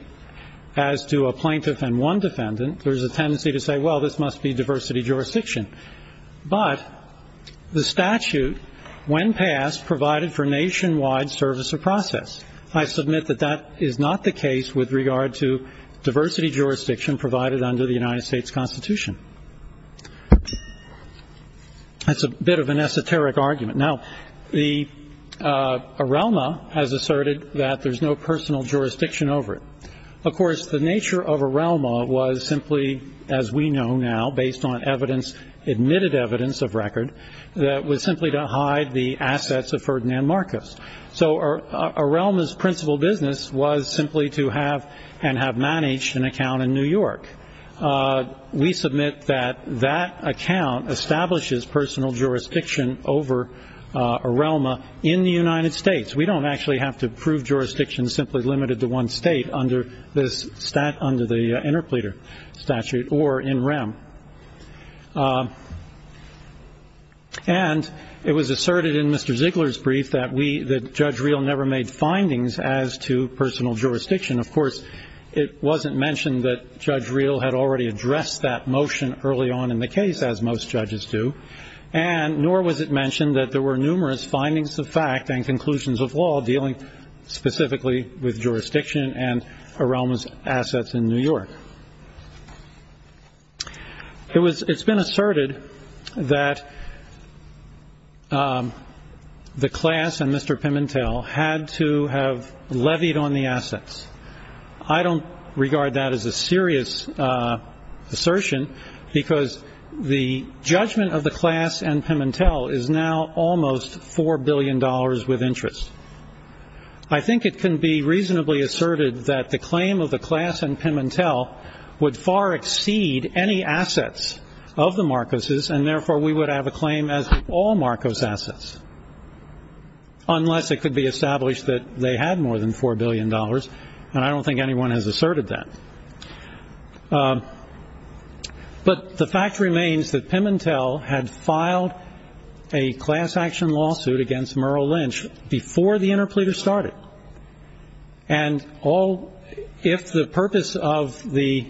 as to a plaintiff and one defendant, there's a tendency to say, well, this must be diversity jurisdiction. But the statute, when passed, provided for nationwide service of process. I submit that that is not the case with regard to diversity jurisdiction provided under the United States Constitution. That's a bit of an esoteric argument. Now, Arelma has asserted that there's no personal jurisdiction over it. Of course, the nature of Arelma was simply, as we know now, based on evidence, admitted evidence of record, that was simply to hide the assets of Ferdinand Marcus. So Arelma's principal business was simply to have and have managed an account in New York. We submit that that account establishes personal jurisdiction over Arelma in the United States. We don't actually have to prove jurisdiction simply limited to one state under the interpleader statute or in REM. And it was asserted in Mr. Ziegler's brief that Judge Reel never made findings as to personal jurisdiction. Of course, it wasn't mentioned that Judge Reel had already addressed that motion early on in the case, as most judges do. And nor was it mentioned that there were numerous findings of fact and conclusions of law dealing specifically with jurisdiction and Arelma's assets in New York. It's been asserted that the class and Mr. Pimentel had to have levied on the assets. I don't regard that as a serious assertion, because the judgment of the class and Pimentel is now almost $4 billion with interest. I think it can be reasonably asserted that the claim of the class and Pimentel would far exceed any assets of the Marcuses, and therefore we would have a claim as all Marcos assets, unless it could be established that they had more than $4 billion. And I don't think anyone has asserted that. But the fact remains that Pimentel had filed a class action lawsuit against Merle Lynch before the interpleader started. And if the purpose of the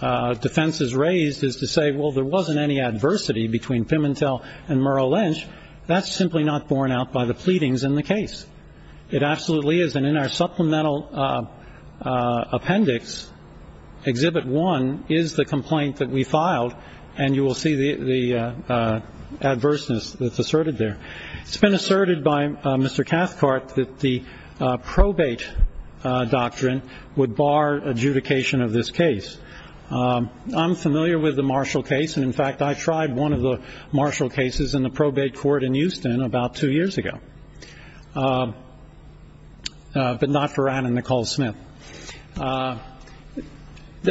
defense is raised is to say, well, there wasn't any adversity between Pimentel and Merle Lynch, that's simply not borne out by the pleadings in the case. It absolutely is, and in our supplemental appendix, Exhibit 1 is the complaint that we filed, and you will see the adverseness that's asserted there. It's been asserted by Mr. Cathcart that the probate doctrine would bar adjudication of this case. I'm familiar with the Marshall case, and in fact I tried one of the Marshall cases in the probate court in Houston about two years ago. But not for Ryan and Nicole Smith.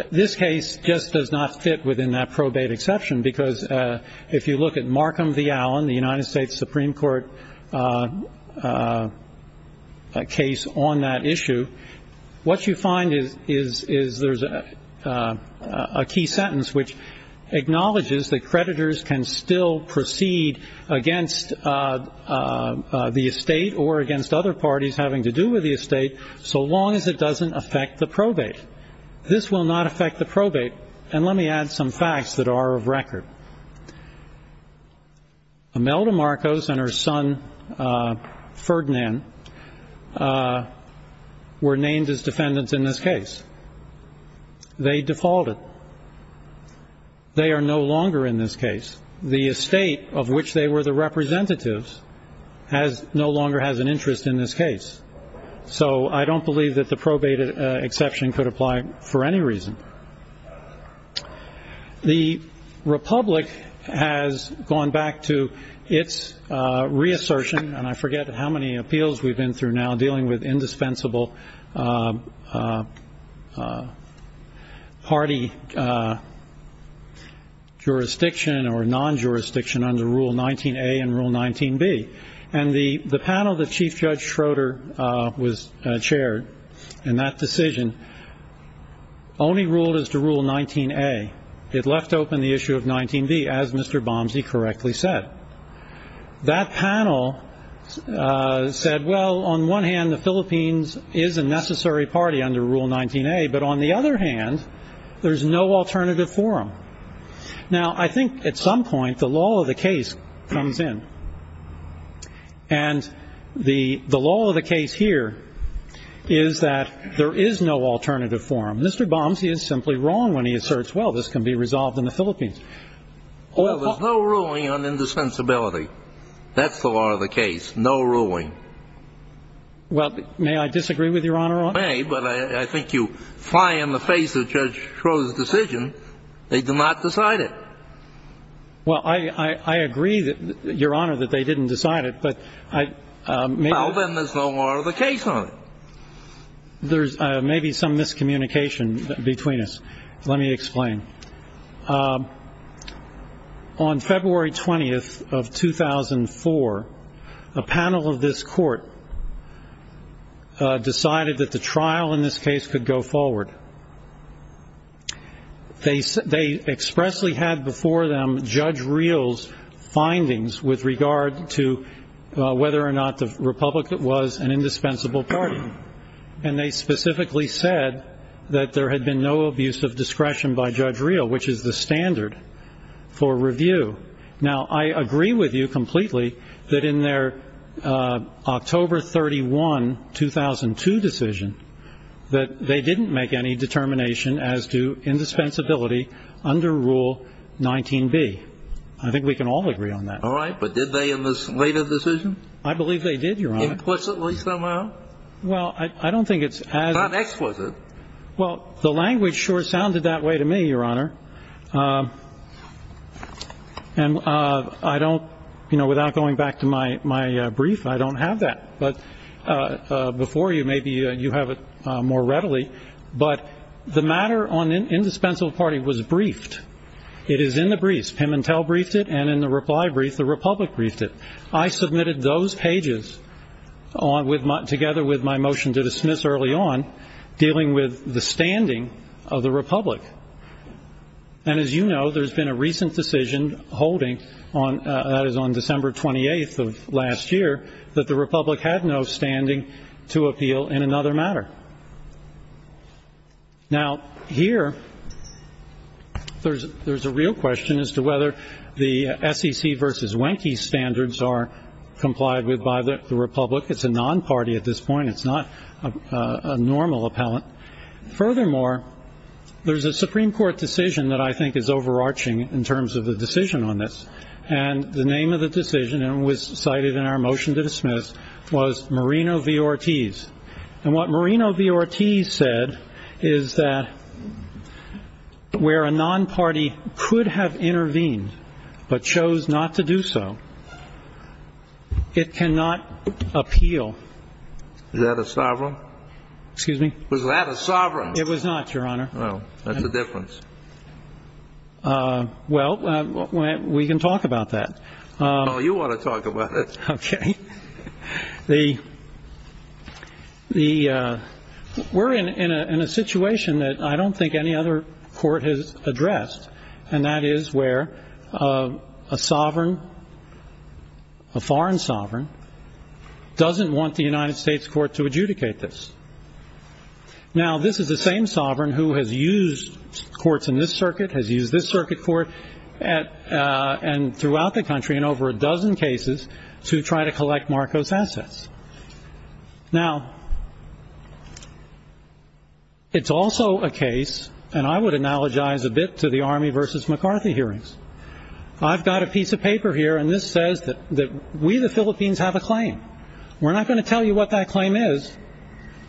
This case just does not fit within that probate exception, because if you look at Markham v. Allen, the United States Supreme Court case on that issue, what you find is there's a key sentence which acknowledges that creditors can still proceed against the estate or against other parties having to do with the estate, so long as it doesn't affect the probate. This will not affect the probate. And let me add some facts that are of record. Imelda Marcos and her son, Ferdinand, were named as defendants in this case. They defaulted. They are no longer in this case. The estate of which they were the representatives no longer has an interest in this case. So I don't believe that the probate exception could apply for any reason. The Republic has gone back to its reassertion, and I forget how many appeals we've been through now dealing with indispensable party jurisdiction or non-jurisdiction under Rule 19A and Rule 19B. And the panel that Chief Judge Schroeder chaired in that decision only ruled as to Rule 19A. It left open the issue of 19B, as Mr. Bomsey correctly said. That panel said, well, on one hand, the Philippines is a necessary party under Rule 19A, but on the other hand, there's no alternative forum. Now, I think at some point the law of the case comes in. And the law of the case here is that there is no alternative forum. Mr. Bomsey is simply wrong when he asserts, well, this can be resolved in the Philippines. Well, there's no ruling on indissensibility. That's the law of the case, no ruling. Well, may I disagree with Your Honor on that? You may, but I think you fly in the face of Judge Schroeder's decision. They did not decide it. Well, I agree, Your Honor, that they didn't decide it, but I... Well, then there's no law of the case on it. There's maybe some miscommunication between us. Let me explain. On February 20th of 2004, a panel of this court decided that the trial in this case could go forward. They expressly had before them Judge Reel's findings with regard to whether or not the Republican was an indispensable party. And they specifically said that there had been no abuse of discretion by Judge Reel, which is the standard for review. Now, I agree with you completely that in their October 31, 2002 decision, that they didn't make any determination as to indispensability under Rule 19B. I think we can all agree on that. All right, but did they in this later decision? I believe they did, Your Honor. Implicitly somehow? Well, I don't think it's as... It's not explicit. Well, the language sure sounded that way to me, Your Honor. And I don't, you know, without going back to my brief, I don't have that. But before you, maybe you have it more readily. But the matter on the indispensable party was briefed. It is in the briefs. Pimentel briefed it, and in the reply brief, the Republic briefed it. I submitted those pages, together with my motion to dismiss early on, dealing with the standing of the Republic. And as you know, there's been a recent decision holding, that is on December 28 of last year, that the Republic had no standing to appeal in another matter. Now, here, there's a real question as to whether the SEC versus Wenke standards are complied with by the Republic. It's a non-party at this point. It's not a normal appellate. Furthermore, there's a Supreme Court decision that I think is overarching in terms of the decision on this. And the name of the decision, and it was cited in our motion to dismiss, was Marino v. Ortiz. And what Marino v. Ortiz said is that where a non-party could have intervened, but chose not to do so, it cannot appeal. Is that a sovereign? Excuse me? Was that a sovereign? It was not, Your Honor. Well, that's the difference. Well, we can talk about that. Oh, you want to talk about it. Okay. We're in a situation that I don't think any other court has addressed, and that is where a sovereign, a foreign sovereign, doesn't want the United States court to adjudicate this. Now, this is the same sovereign who has used courts in this circuit, has used this circuit court, and throughout the country in over a dozen cases to try to collect Marcos' assets. Now, it's also a case, and I would analogize a bit to the Army v. McCarthy hearings. I've got a piece of paper here, and this says that we, the Philippines, have a claim. We're not going to tell you what that claim is,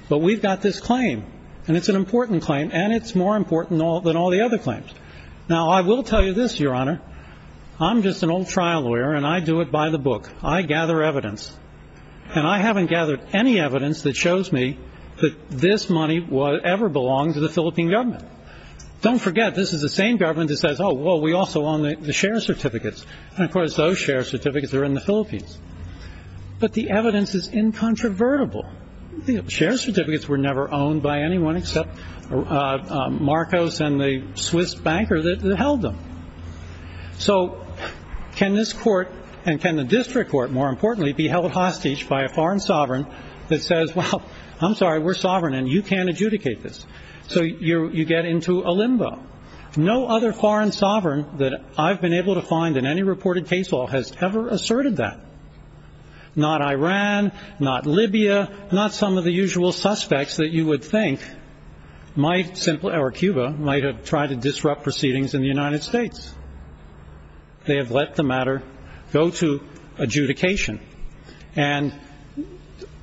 but we've got this claim. And it's an important claim, and it's more important than all the other claims. Now, I will tell you this, Your Honor. I'm just an old trial lawyer, and I do it by the book. I gather evidence. And I haven't gathered any evidence that shows me that this money ever belonged to the Philippine government. Don't forget, this is the same government that says, oh, well, we also own the share certificates. And, of course, those share certificates are in the Philippines. But the evidence is incontrovertible. The share certificates were never owned by anyone except Marcos and the Swiss banker that held them. So can this court, and can the district court, more importantly, be held hostage by a foreign sovereign that says, well, I'm sorry, we're sovereign, and you can't adjudicate this. So you get into a limbo. No other foreign sovereign that I've been able to find in any reported case law has ever asserted that. Not Iran, not Libya, not some of the usual suspects that you would think might simply or Cuba might have tried to disrupt proceedings in the United States. They have let the matter go to adjudication. And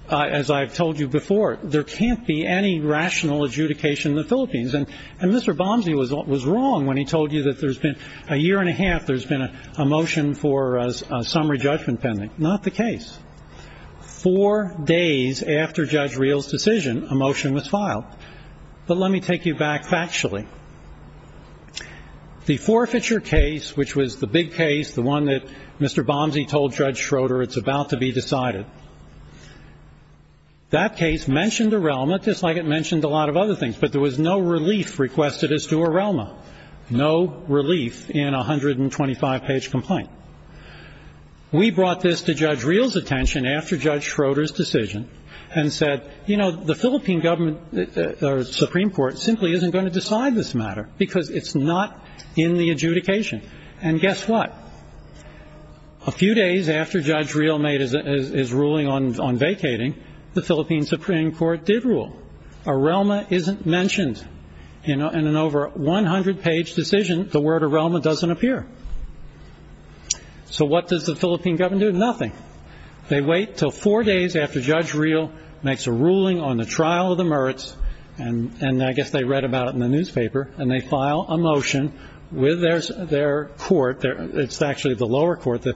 as I've told you before, there can't be any rational adjudication in the Philippines. And Mr. Bomsey was wrong when he told you that there's been a year and a half there's been a motion for a summary judgment pending. Not the case. Four days after Judge Reel's decision, a motion was filed. But let me take you back factually. The forfeiture case, which was the big case, the one that Mr. Bomsey told Judge Schroeder it's about to be decided, that case mentioned Arelma just like it mentioned a lot of other things. But there was no relief requested as to Arelma. No relief in a 125-page complaint. We brought this to Judge Reel's attention after Judge Schroeder's decision and said, you know, the Philippine government or Supreme Court simply isn't going to decide this matter because it's not in the adjudication. And guess what? A few days after Judge Reel made his ruling on vacating, the Philippine Supreme Court did rule. Arelma isn't mentioned. In an over 100-page decision, the word Arelma doesn't appear. So what does the Philippine government do? Nothing. They wait until four days after Judge Reel makes a ruling on the trial of the Mertz, and I guess they read about it in the newspaper, and they file a motion with their court. It's actually the lower court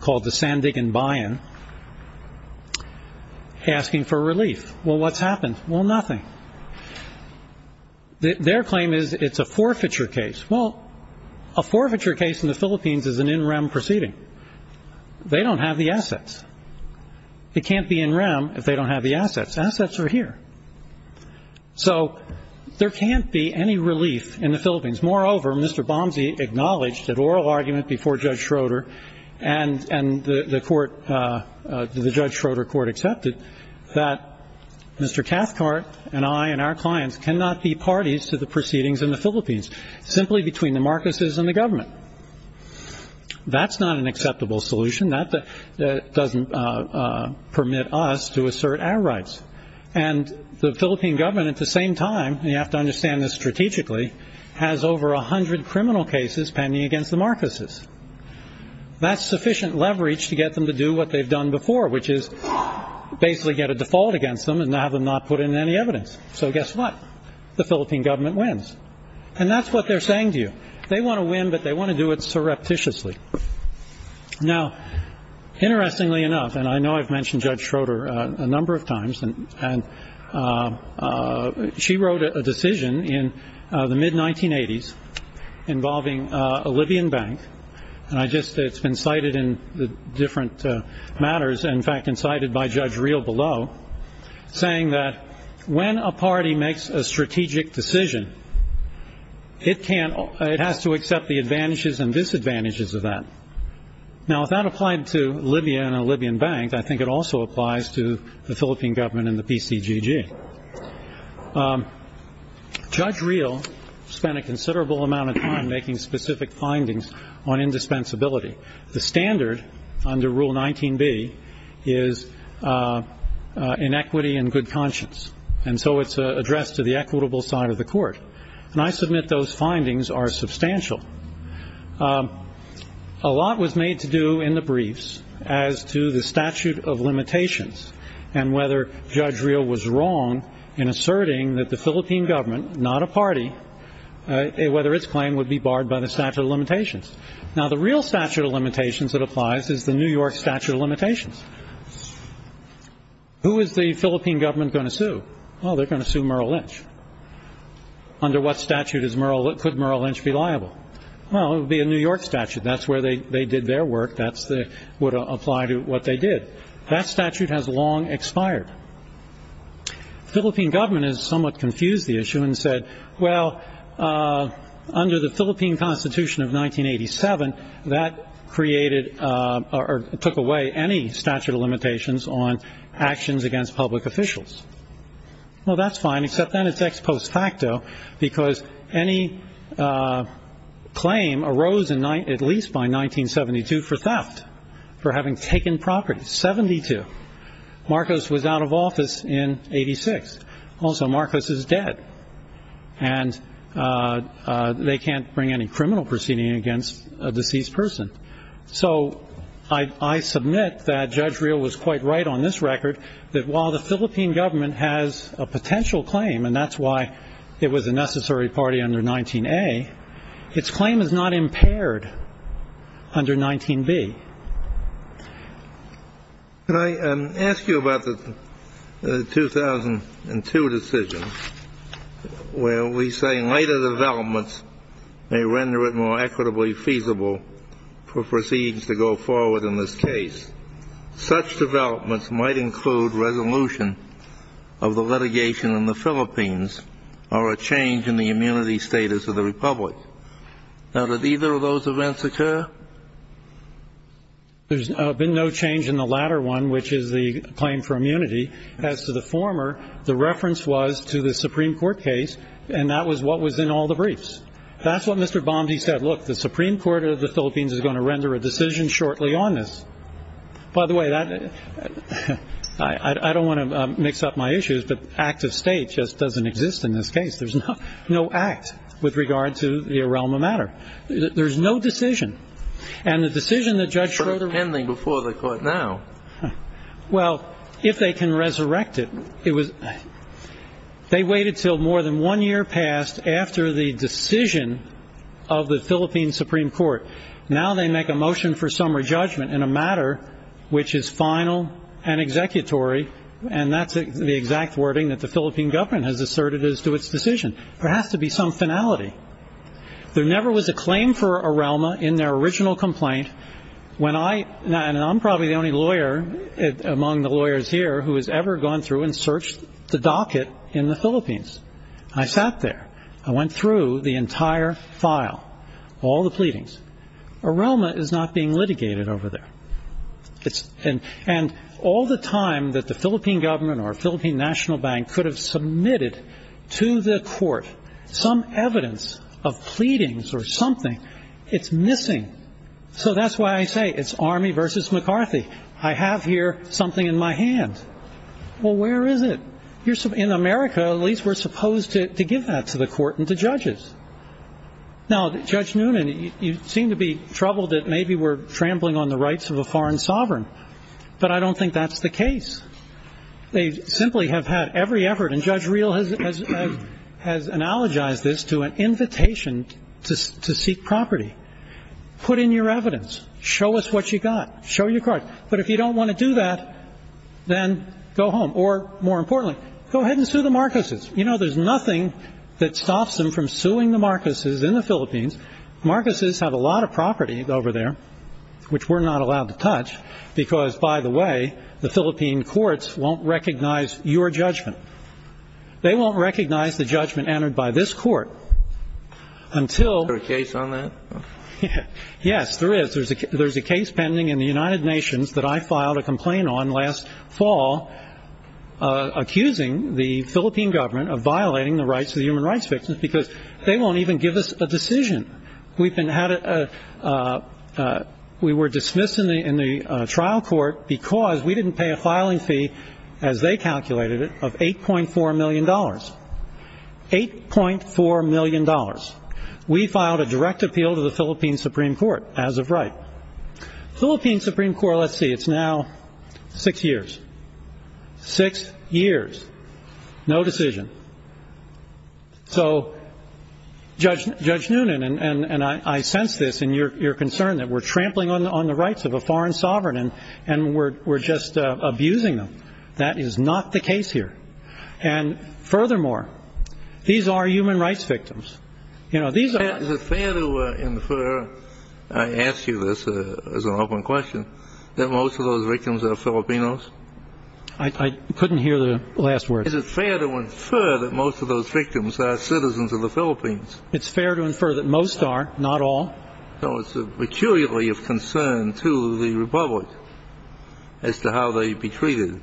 called the Sandigan-Bien asking for relief. Well, what's happened? Well, nothing. Their claim is it's a forfeiture case. Well, a forfeiture case in the Philippines is an in-rem proceeding. They don't have the assets. It can't be in-rem if they don't have the assets. Assets are here. So there can't be any relief in the Philippines. Moreover, Mr. Bomsey acknowledged an oral argument before Judge Schroeder, and the Judge Schroeder court accepted that Mr. Cathcart and I and our clients cannot be parties to the proceedings in the Philippines, simply between the Marcoses and the government. That's not an acceptable solution. That doesn't permit us to assert our rights. And the Philippine government, at the same time, and you have to understand this strategically, has over 100 criminal cases pending against the Marcoses. That's sufficient leverage to get them to do what they've done before, which is basically get a default against them and have them not put in any evidence. So guess what? The Philippine government wins. And that's what they're saying to you. They want to win, but they want to do it surreptitiously. Now, interestingly enough, and I know I've mentioned Judge Schroeder a number of times, and she wrote a decision in the mid-1980s involving a Libyan bank, and it's been cited in different matters, in fact, and cited by Judge Reel below, saying that when a party makes a strategic decision, it has to accept the advantages and disadvantages of that. Now, if that applied to Libya and a Libyan bank, I think it also applies to the Philippine government and the PCGG. Judge Reel spent a considerable amount of time making specific findings on indispensability. The standard under Rule 19b is inequity and good conscience, and so it's addressed to the equitable side of the court. And I submit those findings are substantial. A lot was made to do in the briefs as to the statute of limitations and whether Judge Reel was wrong in asserting that the Philippine government, not a party, whether its claim would be barred by the statute of limitations. Now, the real statute of limitations that applies is the New York statute of limitations. Who is the Philippine government going to sue? Oh, they're going to sue Merrill Lynch. Under what statute could Merrill Lynch be liable? Well, it would be a New York statute. That's where they did their work. That would apply to what they did. That statute has long expired. Philippine government has somewhat confused the issue and said, well, under the Philippine Constitution of 1987, that created or took away any statute of limitations on actions against public officials. Well, that's fine, except then it's ex post facto because any claim arose at least by 1972 for theft, for having taken property, 72. Marcos was out of office in 86. Also, Marcos is dead, and they can't bring any criminal proceeding against a deceased person. So I submit that Judge Reel was quite right on this record, that while the Philippine government has a potential claim, and that's why it was a necessary party under 19A, its claim is not impaired under 19B. Can I ask you about the 2002 decision, where we say later developments may render it more equitably feasible for proceedings to go forward in this case. Such developments might include resolution of the litigation in the Philippines or a change in the immunity status of the Republic. Now, did either of those events occur? There's been no change in the latter one, which is the claim for immunity. As to the former, the reference was to the Supreme Court case, and that was what was in all the briefs. That's what Mr. Bomsey said. Look, the Supreme Court of the Philippines is going to render a decision shortly on this. By the way, I don't want to mix up my issues, but active state just doesn't exist in this case. There's no act with regard to the realm of matter. There's no decision. And the decision that Judge Reel... But can they before the court now? Well, if they can resurrect it. They waited until more than one year passed after the decision of the Philippine Supreme Court. Now they make a motion for summary judgment in a matter which is final and executory, and that's the exact wording that the Philippine government has asserted as to its decision. There has to be some finality. There never was a claim for a realm in their original complaint. And I'm probably the only lawyer among the lawyers here who has ever gone through and searched the docket in the Philippines. I sat there. I went through the entire file, all the pleadings. A realm is not being litigated over there. And all the time that the Philippine government or Philippine National Bank could have submitted to the court some evidence of pleadings or something, it's missing. So that's why I say it's Army versus McCarthy. I have here something in my hand. Well, where is it? In America, at least, we're supposed to give that to the court and the judges. Now, Judge Noonan, you seem to be troubled that maybe we're trampling on the rights of a foreign sovereign. But I don't think that's the case. They simply have had every effort, and Judge Reel has analogized this to an invitation to seek property. Put in your evidence. Show us what you got. Show your card. But if you don't want to do that, then go home. Or, more importantly, go ahead and sue the Marcoses. You know, there's nothing that stops them from suing the Marcoses in the Philippines. Marcoses have a lot of property over there, which we're not allowed to touch, because, by the way, the Philippine courts won't recognize your judgment. They won't recognize the judgment entered by this court until... Is there a case on that? Yes, there is. There's a case pending in the United Nations that I filed a complaint on last fall, accusing the Philippine government of violating the rights of human rights victims because they won't even give us a decision. We were dismissed in the trial court because we didn't pay a filing fee, as they calculated it, of $8.4 million. $8.4 million. We filed a direct appeal to the Philippine Supreme Court as of right. Philippine Supreme Court, let's see, it's now six years. Six years. No decision. So, Judge Noonan, and I sense this in your concern that we're trampling on the rights of a foreign sovereign and we're just abusing them. That is not the case here. And, furthermore, these are human rights victims. You know, these are... Is it fair to infer, I ask you this as an open question, that most of those victims are Filipinos? I couldn't hear the last word. Is it fair to infer that most of those victims are citizens of the Philippines? It's fair to infer that most are, not all. So it's a peculiarity of concern to the Republic as to how they'd be treated.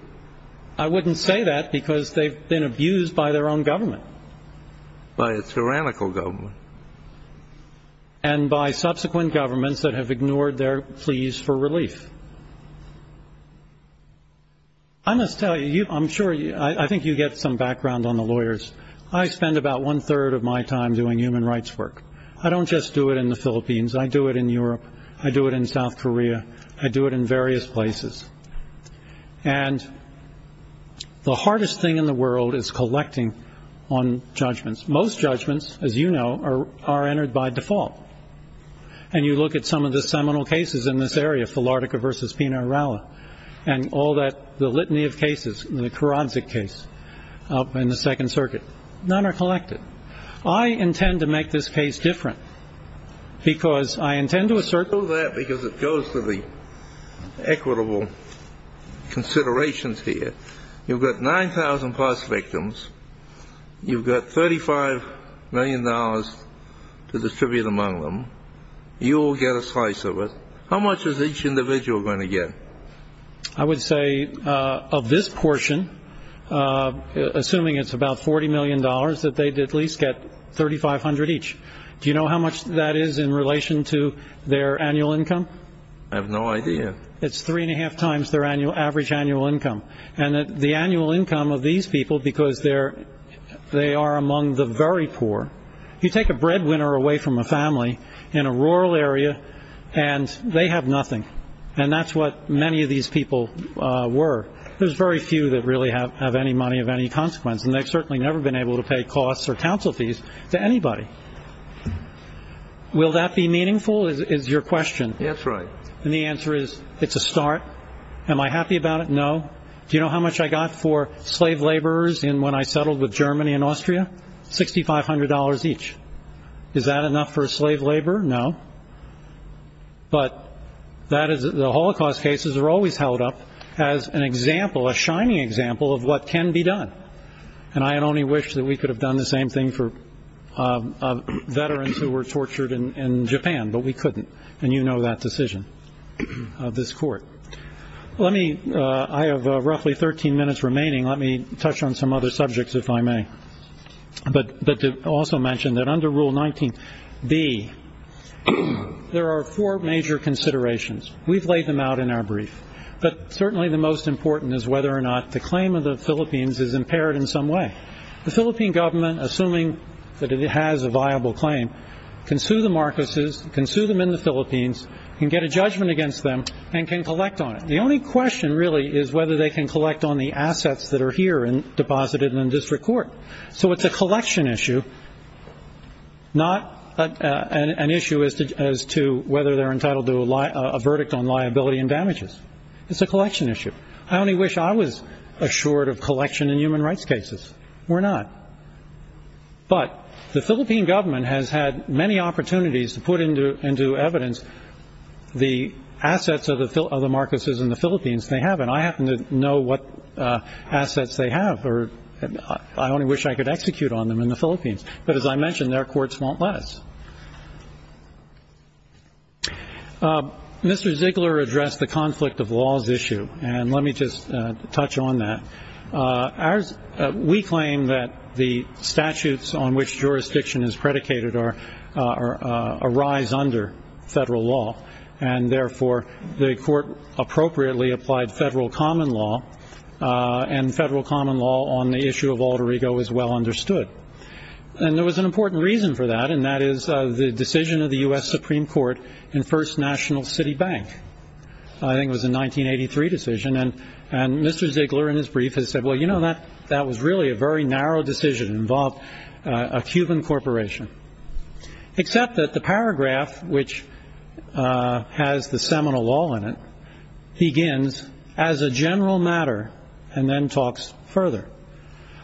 I wouldn't say that because they've been abused by their own government. By a tyrannical government. And by subsequent governments that have ignored their pleas for relief. I must tell you, I'm sure, I think you get some background on the lawyers. I spend about one-third of my time doing human rights work. I don't just do it in the Philippines. I do it in Europe. I do it in South Korea. I do it in various places. And the hardest thing in the world is collecting on judgments. Most judgments, as you know, are entered by default. And you look at some of the seminal cases in this area, Philartica v. Pinaralla, and all that, the litany of cases, the Karadzic case, up in the Second Circuit. None are collected. I intend to make this case different. Because I intend to assert... I do that because it goes to the equitable considerations here. You've got 9,000 past victims. You've got $35 million to distribute among them. You all get a slice of it. How much is each individual going to get? I would say of this portion, assuming it's about $40 million, that they'd at least get $3,500 each. Do you know how much that is in relation to their annual income? I have no idea. It's three-and-a-half times their average annual income. And the annual income of these people, because they are among the very poor. You take a breadwinner away from a family in a rural area, and they have nothing. And that's what many of these people were. There's very few that really have any money of any consequence. And they've certainly never been able to pay costs or counsel fees to anybody. Will that be meaningful is your question. That's right. And the answer is it's a start. Am I happy about it? No. Do you know how much I got for slave laborers when I settled with Germany and Austria? $6,500 each. Is that enough for a slave laborer? No. But the Holocaust cases are always held up as an example, a shining example, of what can be done. And I only wish that we could have done the same thing for veterans who were tortured in Japan, but we couldn't. And you know that decision of this court. I have roughly 13 minutes remaining. Let me touch on some other subjects, if I may. But to also mention that under Rule 19b, there are four major considerations. We've laid them out in our brief. But certainly the most important is whether or not the claim of the Philippines is impaired in some way. The Philippine government, assuming that it has a viable claim, can sue the Marcoses, can sue them in the Philippines, can get a judgment against them, and can collect on it. The only question really is whether they can collect on the assets that are here and deposited in the district court. So it's a collection issue, not an issue as to whether they're entitled to a verdict on liability and damages. It's a collection issue. I only wish I was assured of collection in human rights cases. We're not. But the Philippine government has had many opportunities to put into evidence the assets of the Marcoses in the Philippines they have. And I happen to know what assets they have. I only wish I could execute on them in the Philippines. But as I mentioned, their courts won't let us. Mr. Ziegler addressed the conflict of laws issue, and let me just touch on that. We claim that the statutes on which jurisdiction is predicated arise under federal law, and therefore the court appropriately applied federal common law, and federal common law on the issue of Puerto Rico is well understood. And there was an important reason for that, and that is the decision of the U.S. Supreme Court in First National City Bank. I think it was a 1983 decision, and Mr. Ziegler in his brief has said, well, you know, that was really a very narrow decision. It involved a Cuban corporation. Except that the paragraph, which has the seminal law in it, begins, as a general matter, and then talks further.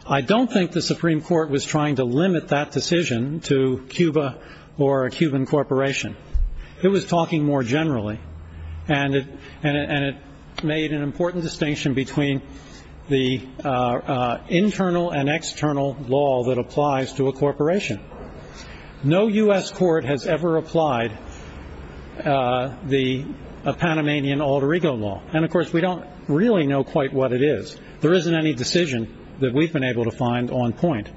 I don't think the Supreme Court was trying to limit that decision to Cuba or a Cuban corporation. It was talking more generally, and it made an important distinction between the internal and external law that applies to a corporation. No U.S. court has ever applied the Panamanian Alter Ego Law. And, of course, we don't really know quite what it is. There isn't any decision that we've been able to find on point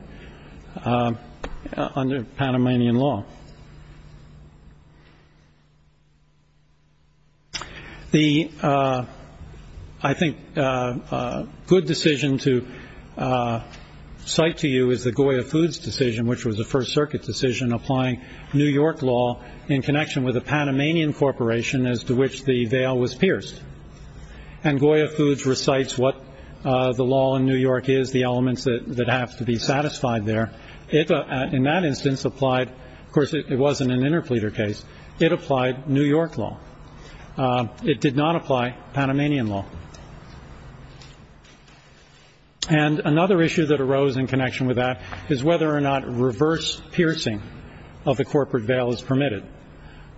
under Panamanian law. The, I think, good decision to cite to you is the Goya Foods decision, which was a First Circuit decision applying New York law in connection with a Panamanian corporation as to which the veil was pierced. And Goya Foods recites what the law in New York is, the elements that have to be satisfied there. It, in that instance, applied, of course, it wasn't an interpleader case. It applied New York law. It did not apply Panamanian law. And another issue that arose in connection with that is whether or not reverse piercing of the corporate veil is permitted.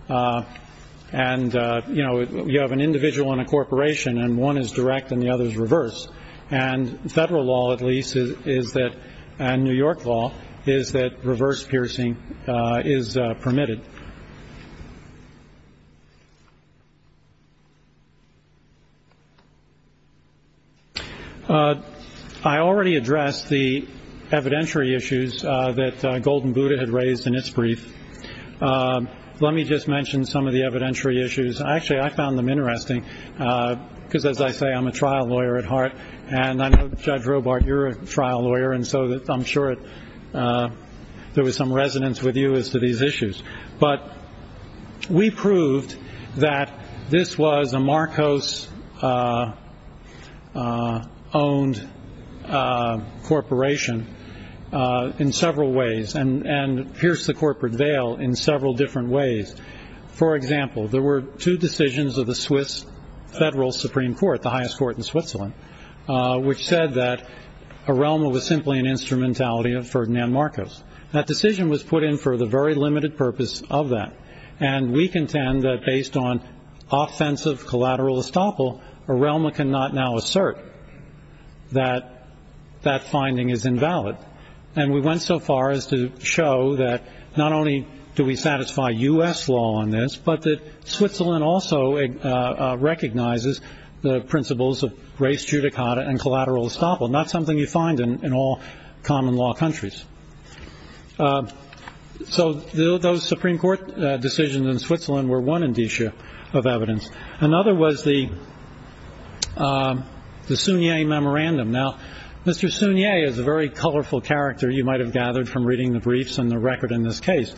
And, you know, you have an individual and a corporation, and one is direct and the other is reverse. And federal law, at least, is that, and New York law, is that reverse piercing is permitted. I already addressed the evidentiary issues that Golden Buddha had raised in its brief. Let me just mention some of the evidentiary issues. Actually, I found them interesting because, as I say, I'm a trial lawyer at heart. And I know, Judge Robart, you're a trial lawyer, and so I'm sure there was some resonance with you as to these issues. But we proved that this was a Marcos-owned corporation in several ways. And pierced the corporate veil in several different ways. For example, there were two decisions of the Swiss Federal Supreme Court, the highest court in Switzerland, which said that Arelma was simply an instrumentality of Ferdinand Marcos. That decision was put in for the very limited purpose of that. And we contend that, based on offensive collateral estoppel, Arelma cannot now assert that that finding is invalid. And we went so far as to show that not only do we satisfy U.S. law on this, but that Switzerland also recognizes the principles of res judicata and collateral estoppel. And that's something you find in all common law countries. So those Supreme Court decisions in Switzerland were one indicia of evidence. Another was the Sunye memorandum. Now, Mr. Sunye is a very colorful character you might have gathered from reading the briefs and the record in this case.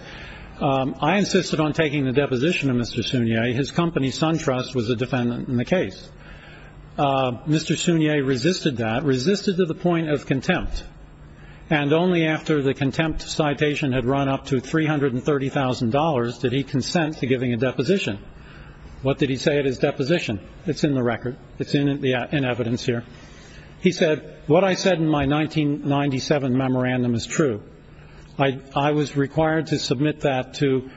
I insisted on taking the deposition of Mr. Sunye. His company, SunTrust, was a defendant in the case. Mr. Sunye resisted that, resisted to the point of contempt. And only after the contempt citation had run up to $330,000 did he consent to giving a deposition. What did he say at his deposition? It's in the record. It's in evidence here. He said, what I said in my 1997 memorandum is true. I was required to submit that to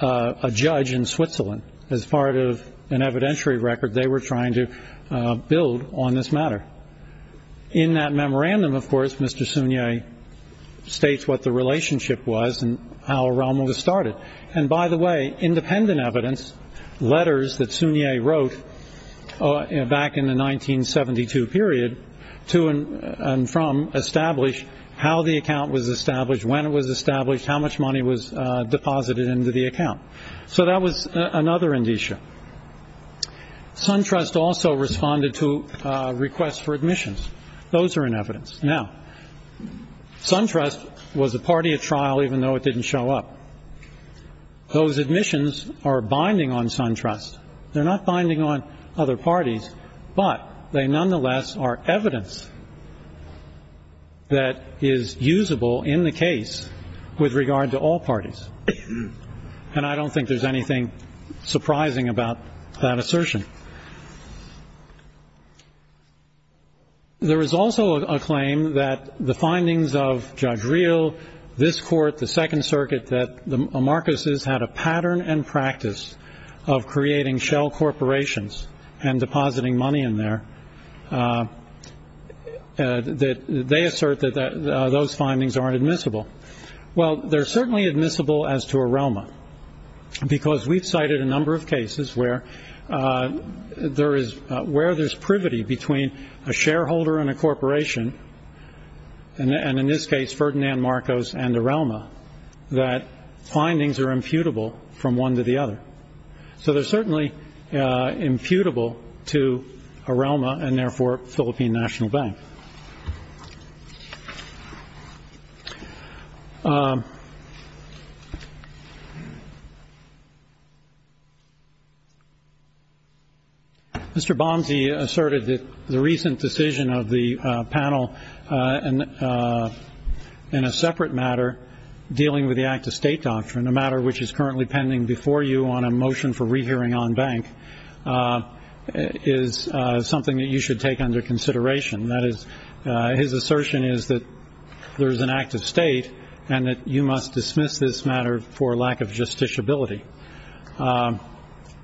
a judge in Switzerland as part of an evidentiary record they were trying to build on this matter. In that memorandum, of course, Mr. Sunye states what the relationship was and how Rommel was started. And by the way, independent evidence, letters that Sunye wrote back in the 1972 period to and from established how the account was established, when it was established, how much money was deposited into the account. So that was another indicia. SunTrust also responded to requests for admissions. Those are in evidence. Now, SunTrust was a party at trial even though it didn't show up. Those admissions are binding on SunTrust. They're not binding on other parties, but they nonetheless are evidence that is usable in the case with regard to all parties. And I don't think there's anything surprising about that assertion. There is also a claim that the findings of Judge Real, this court, the Second Circuit, that the Amarcuses had a pattern and practice of creating shell corporations and depositing money in there. They assert that those findings are admissible. Well, they're certainly admissible as to a realm because we've cited a number of cases where there is where there's privity between a shareholder and a corporation. And in this case, Ferdinand Marcos and the realm that findings are imputable from one to the other. So they're certainly imputable to a realm and, therefore, Philippine National Bank. Mr. Bomsey asserted that the recent decision of the panel in a separate matter dealing with the act of state doctrine, a matter which is currently pending before you on a motion for rehearing on bank, is something that you should take under consideration. That is, his assertion is that there is an act of state and that you must dismiss this matter for lack of justiciability.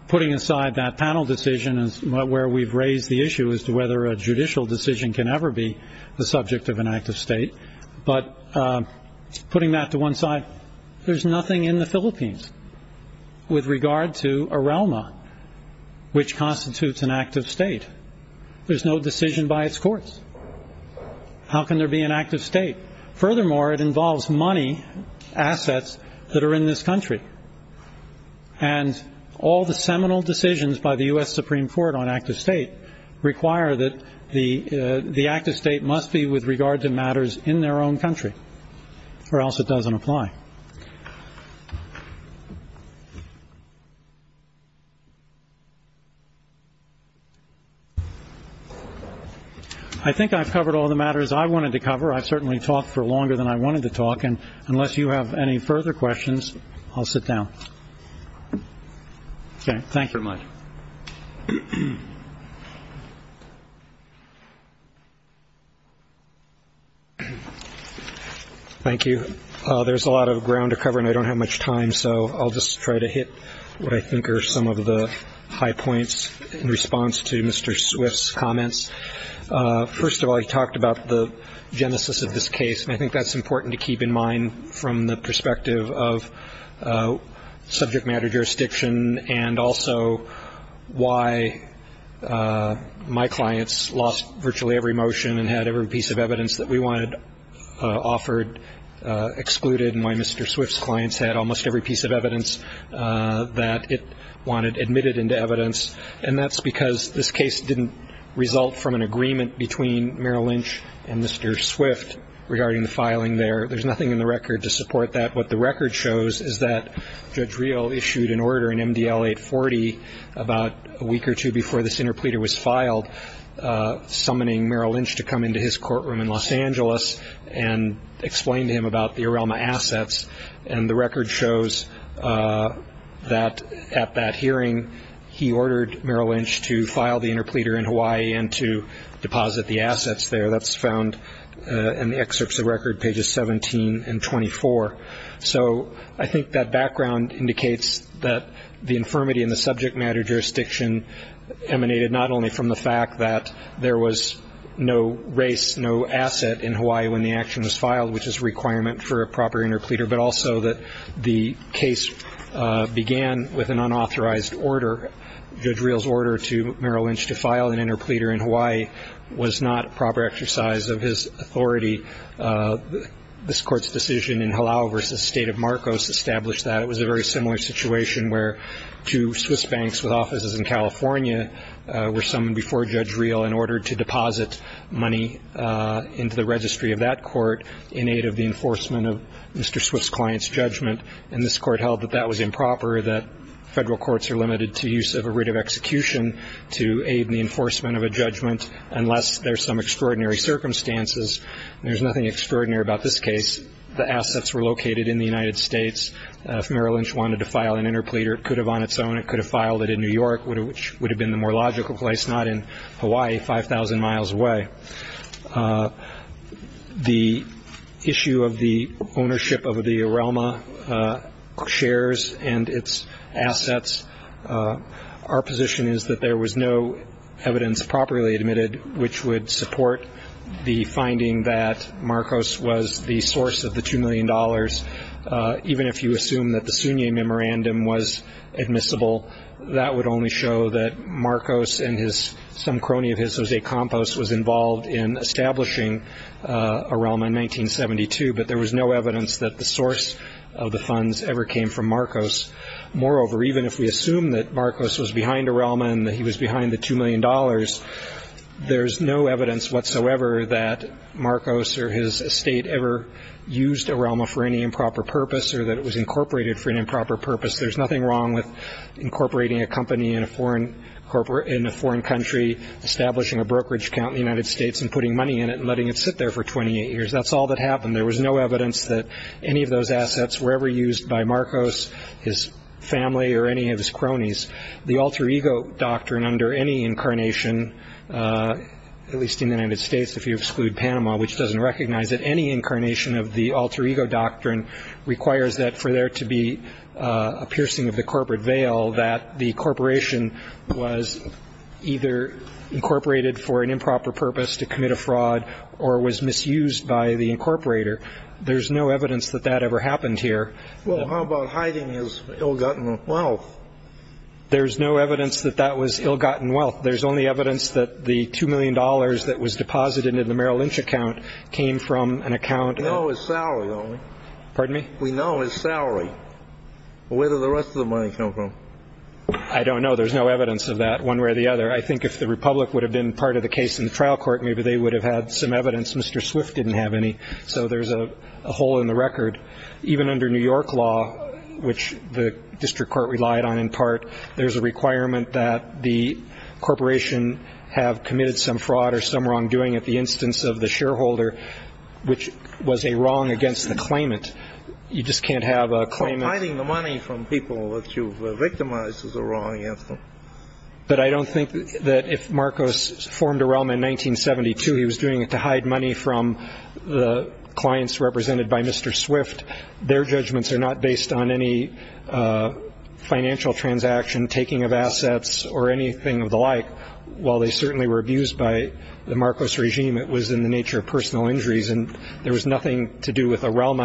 Putting aside that panel decision is where we've raised the issue as to whether a judicial decision can ever be the subject of an act of state. But putting that to one side, there's nothing in the Philippines with regard to a realm which constitutes an act of state. There's no decision by its courts. How can there be an act of state? Furthermore, it involves money, assets that are in this country. And all the seminal decisions by the U.S. Supreme Court on act of state require that the act of state must be with regard to matters in their own country or else it doesn't apply. I think I've covered all the matters I wanted to cover. I certainly talked for longer than I wanted to talk. And unless you have any further questions, I'll sit down. Thank you very much. Thank you. There's a lot of ground to cover and I don't have much time. So I'll just try to hit what I think are some of the high points in response to Mr. Swift's comments. First of all, he talked about the genesis of this case. And I think that's important to keep in mind from the perspective of subject matter jurisdiction and also why my clients lost virtually every motion and had every piece of evidence that we wanted offered excluded and why Mr. Swift's clients had almost every piece of evidence that it wanted admitted into evidence. And that's because this case didn't result from an agreement between Merrill Lynch and Mr. Swift regarding the filing there. There's nothing in the record to support that. What the record shows is that Judge Rio issued an order in MDL 840 about a week or two before this interpleader was filed, summoning Merrill Lynch to come into his courtroom in Los Angeles and explain to him about the Arelma assets. And the record shows that at that hearing he ordered Merrill Lynch to file the interpleader in Hawaii and to deposit the assets there. That's found in the excerpts of record pages 17 and 24. So I think that background indicates that the infirmity in the subject matter jurisdiction emanated not only from the fact that there was no race, no asset in Hawaii when the action was filed, which is a requirement for a proper interpleader, but also that the case began with an unauthorized order. Judge Rio's order to Merrill Lynch to file an interpleader in Hawaii was not a proper exercise of his authority. This court's decision in Halau v. State of Marcos established that. It was a very similar situation where two Swiss banks with offices in California were summoned before Judge Rio in order to deposit money into the registry of that court in aid of the enforcement of Mr. Swift's client's judgment. And this court held that that was improper, that federal courts are limited to use of a writ of execution to aid the enforcement of a judgment unless there's some extraordinary circumstances. There's nothing extraordinary about this case. The assets were located in the United States. If Merrill Lynch wanted to file an interpleader, it could have on its own. It could have filed it in New York, which would have been the more logical place, not in Hawaii 5,000 miles away. The issue of the ownership of the Arelma shares and its assets, our position is that there was no evidence properly admitted which would support the finding that Marcos was the source of the $2 million, even if you assume that the Sunni memorandum was admissible, that would only show that Marcos and some crony of his, Jose Campos, was involved in establishing Arelma in 1972. But there was no evidence that the source of the funds ever came from Marcos. Moreover, even if we assume that Marcos was behind Arelma and that he was behind the $2 million, there's no evidence whatsoever that Marcos or his estate ever used Arelma for any improper purpose or that it was incorporated for an improper purpose. There's nothing wrong with incorporating a company in a foreign country, establishing a brokerage account in the United States and putting money in it and letting it sit there for 28 years. That's all that happened. There was no evidence that any of those assets were ever used by Marcos, his family, or any of his cronies. The alter ego doctrine under any incarnation, at least in the United States if you exclude Panama, which doesn't recognize it, any incarnation of the alter ego doctrine requires that for there to be a piercing of the corporate veil that the corporation was either incorporated for an improper purpose to commit a fraud or was misused by the incorporator. There's no evidence that that ever happened here. Well, how about hiding his ill-gotten wealth? There's no evidence that that was ill-gotten wealth. There's only evidence that the $2 million that was deposited in the Merrill Lynch account came from an account... We know his salary, though. Pardon me? We know his salary. Where did the rest of the money come from? I don't know. There's no evidence of that one way or the other. I think if the Republic would have been part of the case in the trial court, maybe they would have had some evidence. Mr. Swift didn't have any, so there's a hole in the record. Even under New York law, which the district court relied on in part, there's a requirement that the corporation have committed some fraud or some wrongdoing at the instance of the shareholder, which was a wrong against the claimant. You just can't have a claimant... Hiding the money from people that you've victimized is a wrong against them. But I don't think that if Marcos formed a realm in 1972, he was doing it to hide money from the clients represented by Mr. Swift. Their judgments are not based on any financial transaction, taking of assets, or anything of the like. While they certainly were abused by the Marcos regime, it was in the nature of personal injuries, and there was nothing to do with a realm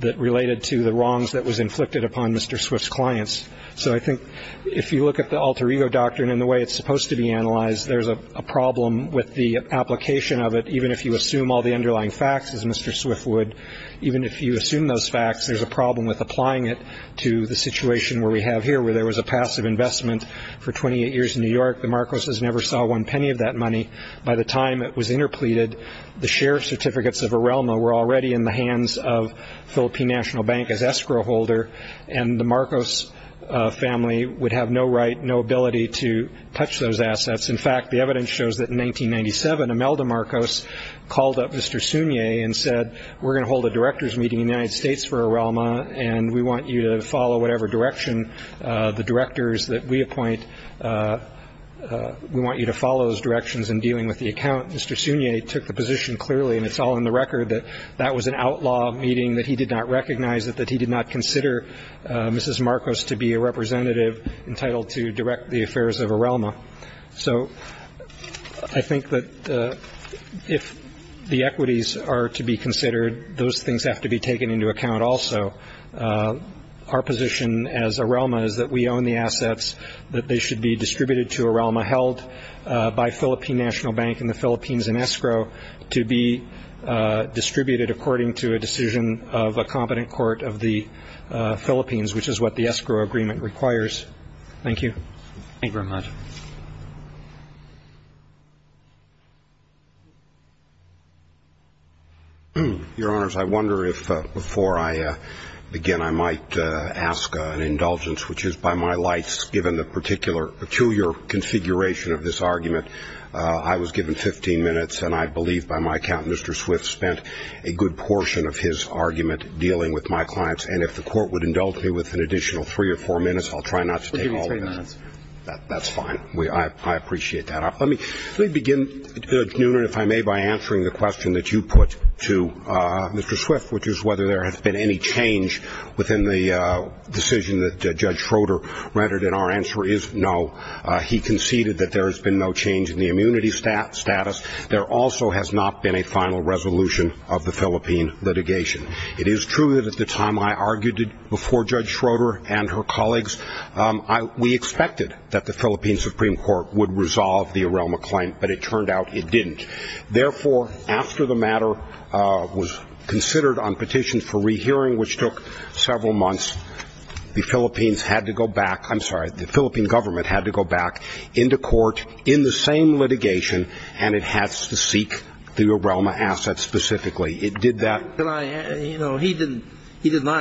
that related to the wrongs that was inflicted upon Mr. Swift's clients. So I think if you look at the alter ego doctrine and the way it's supposed to be analyzed, there's a problem with the application of it, even if you assume all the underlying facts, as Mr. Swift would. Even if you assume those facts, there's a problem with applying it to the situation where we have here, where there was a passive investment for 28 years in New York. The Marcoses never saw one penny of that money. By the time it was interpleaded, the share certificates of Arelmo were already in the hands of Philippine National Bank as escrow holder, and the Marcos family would have no right, no ability to touch those assets. In fact, the evidence shows that in 1997, Imelda Marcos called up Mr. Sunye and said we're going to hold a director's meeting in the United States for Arelmo, and we want you to follow whatever direction the directors that we appoint, we want you to follow those directions in dealing with the account. Mr. Sunye took the position clearly, and it's all in the record, that that was an outlaw meeting, that he did not recognize it, that he did not consider Mrs. Marcos to be a representative entitled to direct the affairs of Arelmo. So I think that if the equities are to be considered, those things have to be taken into account also. Our position as Arelmo is that we own the assets, that they should be distributed to Arelmo, held by Philippine National Bank and the Philippines in escrow, to be distributed according to a decision of a competent court of the Philippines, which is what the escrow agreement requires. Thank you. Thank you very much. Your Honors, I wonder if before I begin I might ask an indulgence, which is by my lights given the particular peculiar configuration of this argument. I was given 15 minutes, and I believe by my count Mr. Swift spent a good portion of his argument dealing with my clients, and if the court would indulge me with an additional three or four minutes, I'll try not to take all of that. That's fine. I appreciate that. Let me begin, Mr. Newman, if I may, by answering the question that you put to Mr. Swift, which is whether there has been any change within the decision that Judge Schroeder rendered, and our answer is no. He conceded that there has been no change in the immunity status. There also has not been a final resolution of the Philippine litigation. It is true that at the time I argued it before Judge Schroeder and her colleagues, we expected that the Philippine Supreme Court would resolve the ARELMA claim, but it turned out it didn't. Therefore, after the matter was considered on petitions for rehearing, which took several months, the Philippines had to go back, I'm sorry, the Philippine government had to go back into court in the same litigation, and it had to seek the ARELMA assets specifically. He did not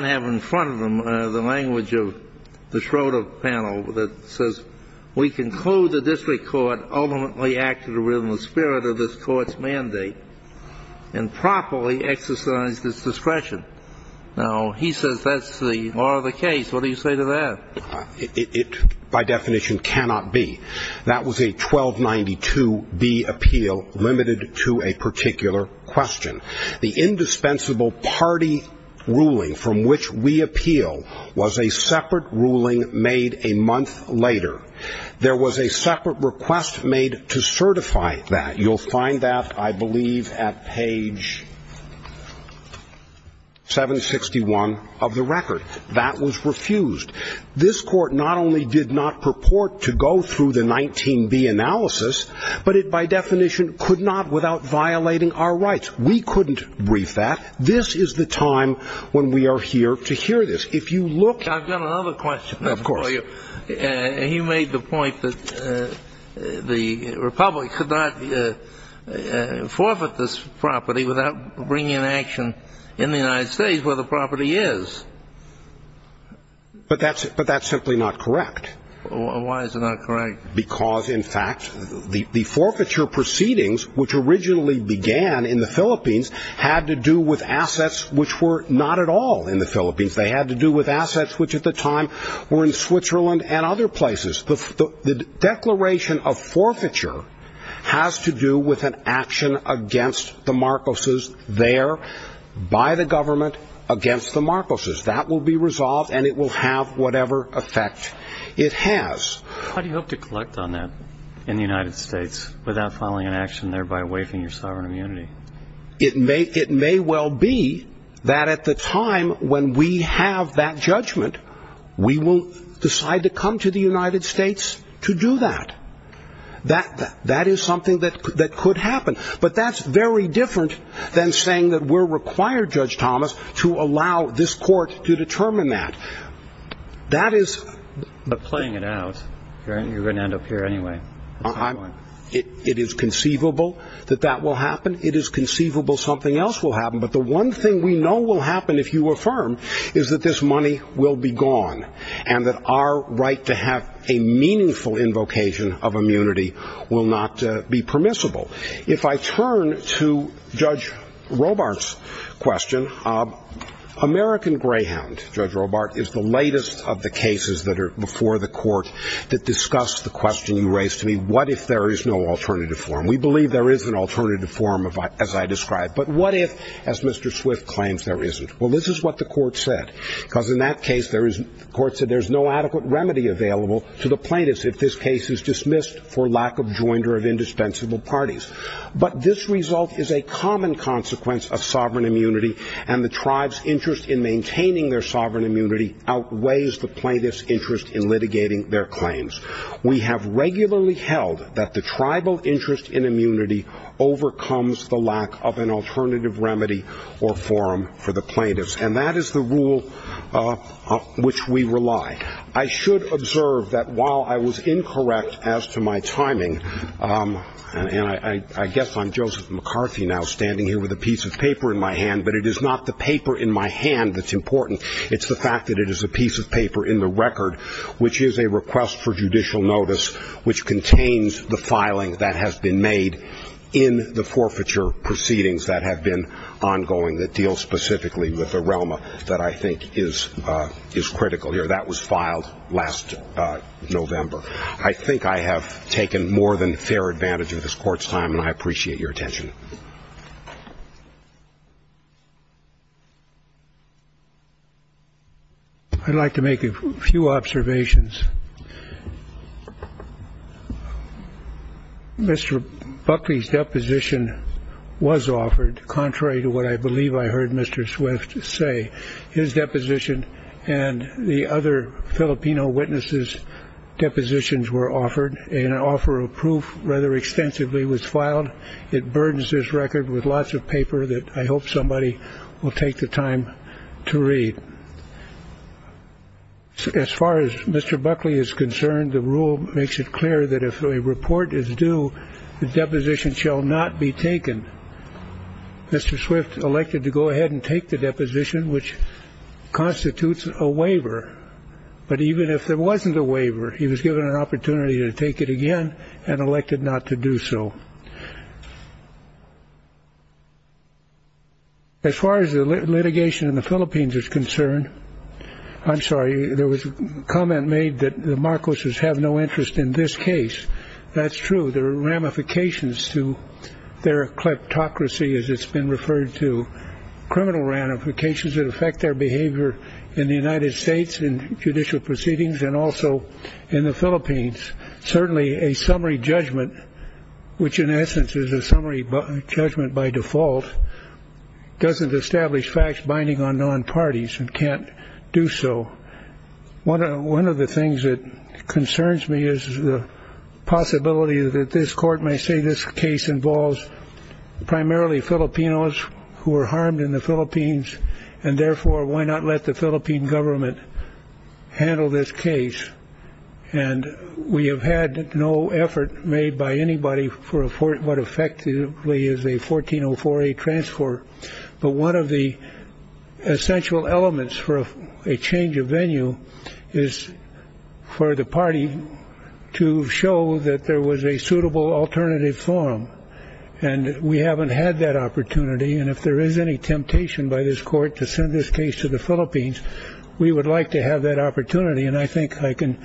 have in front of him the language of the Schroeder panel that says, we conclude the district court ultimately acted within the spirit of this court's mandate and properly exercised its discretion. Now, he says that's the law of the case. What do you say to that? It, by definition, cannot be. That was a 1292B appeal limited to a particular question. The indispensable party ruling from which we appeal was a separate ruling made a month later. There was a separate request made to certify that. You'll find that, I believe, at page 761 of the record. That was refused. This court not only did not purport to go through the 19B analysis, but it, by definition, could not without violating our rights. We couldn't brief that. This is the time when we are here to hear this. I've got another question for you. He made the point that the Republic could not forfeit this property without bringing in action in the United States where the property is. But that's simply not correct. Why is it not correct? Because, in fact, the forfeiture proceedings, which originally began in the Philippines, had to do with assets which were not at all in the Philippines. They had to do with assets which, at the time, were in Switzerland and other places. The declaration of forfeiture has to do with an action against the Marcoses there by the government against the Marcoses. That will be resolved, and it will have whatever effect it has. How do you hope to collect on that in the United States without filing an action thereby waiving your sovereign immunity? It may well be that at the time when we have that judgment, we will decide to come to the United States to do that. That is something that could happen. But that's very different than saying that we're required, Judge Thomas, to allow this court to determine that. But playing it out, you're going to end up here anyway. It is conceivable that that will happen. It is conceivable something else will happen. But the one thing we know will happen if you affirm is that this money will be gone and that our right to have a meaningful invocation of immunity will not be permissible. If I turn to Judge Robart's question, American Greyhound, Judge Robart, is the latest of the cases that are before the court that discuss the question he raised to me, what if there is no alternative form? We believe there is an alternative form, as I described. But what if, as Mr. Swift claims, there isn't? Well, this is what the court said. Because in that case, the court said there's no adequate remedy available to the plaintiffs if this case is dismissed for lack of joinder of indispensable parties. But this result is a common consequence of sovereign immunity, and the tribe's interest in maintaining their sovereign immunity outweighs the plaintiff's interest in litigating their claims. We have regularly held that the tribal interest in immunity overcomes the lack of an alternative remedy or form for the plaintiffs. And that is the rule which we rely. I should observe that while I was incorrect as to my timing, and I guess I'm Joseph McCarthy now, standing here with a piece of paper in my hand, but it is not the paper in my hand that's important. It's the fact that it is a piece of paper in the record, which is a request for judicial notice, which contains the filing that has been made in the forfeiture proceedings that have been ongoing that deal specifically with the realm that I think is critical here. That was filed last November. I think I have taken more than fair advantage of this court's time, and I appreciate your attention. I'd like to make a few observations. Mr. Buckley's deposition was offered, contrary to what I believe I heard Mr. Swift say. His deposition and the other Filipino witnesses' depositions were offered, and an offer of proof rather extensively was filed. It burdens this record with lots of paper that I hope somebody will take the time to read. As far as Mr. Buckley is concerned, the rule makes it clear that if a report is due, the deposition shall not be taken. Mr. Swift elected to go ahead and take the deposition, which constitutes a waiver. But even if there wasn't a waiver, he was given an opportunity to take it again and elected not to do so. As far as the litigation in the Philippines is concerned, I'm sorry, there was a comment made that the Marcos's have no interest in this case. That's true. There are ramifications to their kleptocracy, as it's been referred to, criminal ramifications that affect their behavior in the United States in judicial proceedings and also in the Philippines. Certainly a summary judgment, which in essence is a summary judgment by default, doesn't establish facts binding on non-parties and can't do so. One of the things that concerns me is the possibility that this court may say this case involves primarily Filipinos who are harmed in the Philippines. And therefore, why not let the Philippine government handle this case? And we have had no effort made by anybody for what effectively is a 1404A transport. But one of the essential elements for a change of venue is for the party to show that there was a suitable alternative form. And we haven't had that opportunity. And if there is any temptation by this court to send this case to the Philippines, we would like to have that opportunity. And I think I can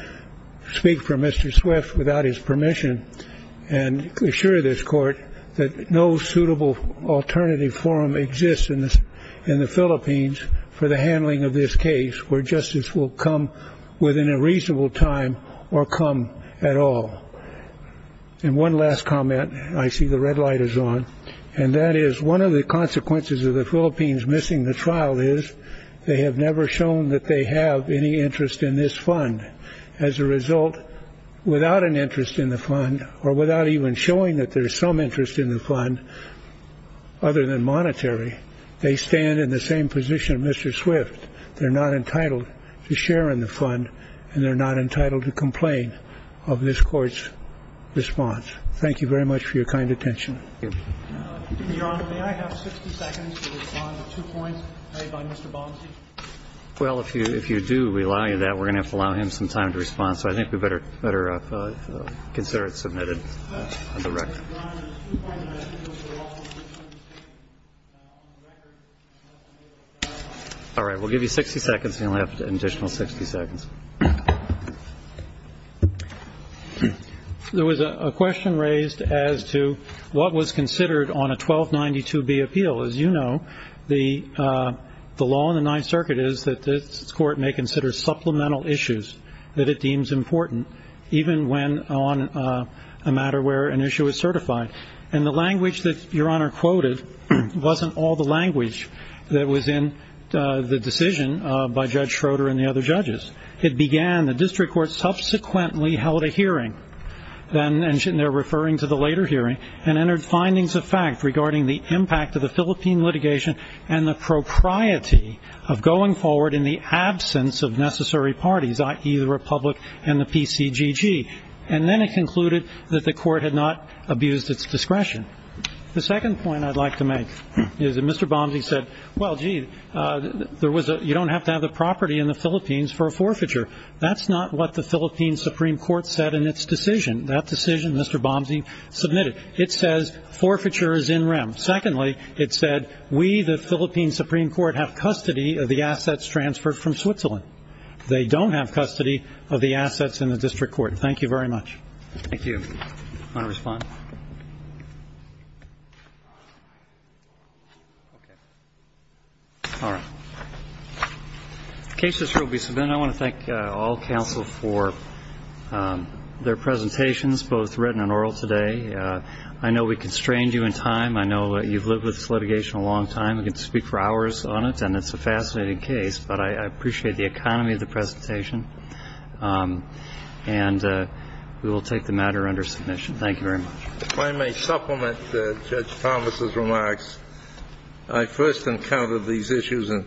speak for Mr. Swift without his permission and assure this court that no suitable alternative forum exists in the Philippines for the handling of this case, where justice will come within a reasonable time or come at all. And one last comment. I see the red light is on. And that is one of the consequences of the Philippines missing the trial is they have never shown that they have any interest in this fund. As a result, without an interest in the fund or without even showing that there is some interest in the fund other than monetary, they stand in the same position. Mr. Swift, they're not entitled to share in the fund and they're not entitled to complain of this court's response. Thank you very much for your kind attention. Well, if you if you do rely on that, we're going to allow him some time to respond. So I think we better better consider it submitted. All right. We'll give you 60 seconds and we'll have an additional 60 seconds. There was a question raised as to what was considered on a 1290 to be appeal. As you know, the the law in the Ninth Circuit is that this court may consider supplemental issues that it deems important, even when on a matter where an issue is certified. And the language that your honor quoted wasn't all the language that was in the decision by Judge Schroeder and the other judges. It began the district court subsequently held a hearing. And they're referring to the later hearing and entered findings of fact regarding the impact of the Philippine litigation and the propriety of going forward in the absence of necessary parties, i.e., the republic and the PCGG. And then it concluded that the court had not abused its discretion. The second point I'd like to make is that Mr. Bombay said, well, gee, there was a you don't have to have a property in the Philippines for a forfeiture. That's not what the Philippine Supreme Court said in its decision. That decision, Mr. Bombay submitted. It says forfeiture is in rem. Secondly, it said we, the Philippine Supreme Court, have custody of the assets transferred from Switzerland. They don't have custody of the assets in the district court. Thank you very much. Thank you. All right. I want to thank all counsel for their presentations, both written and oral today. I know we constrained you in time. I know you've lived with litigation a long time. We could speak for hours on it. And it's a fascinating case. But I appreciate the economy of the presentation. And we will take the matter under submission. Thank you very much. If I may supplement Judge Thomas's remarks, I first encountered these issues in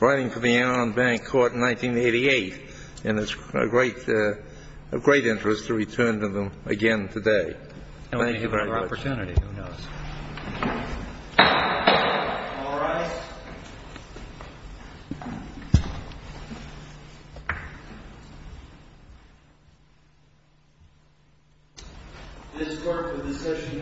writing for the Allen Bank Court in 1988. And it's a great interest to return to them again today. Thank you very much. All right. This court is now adjourned.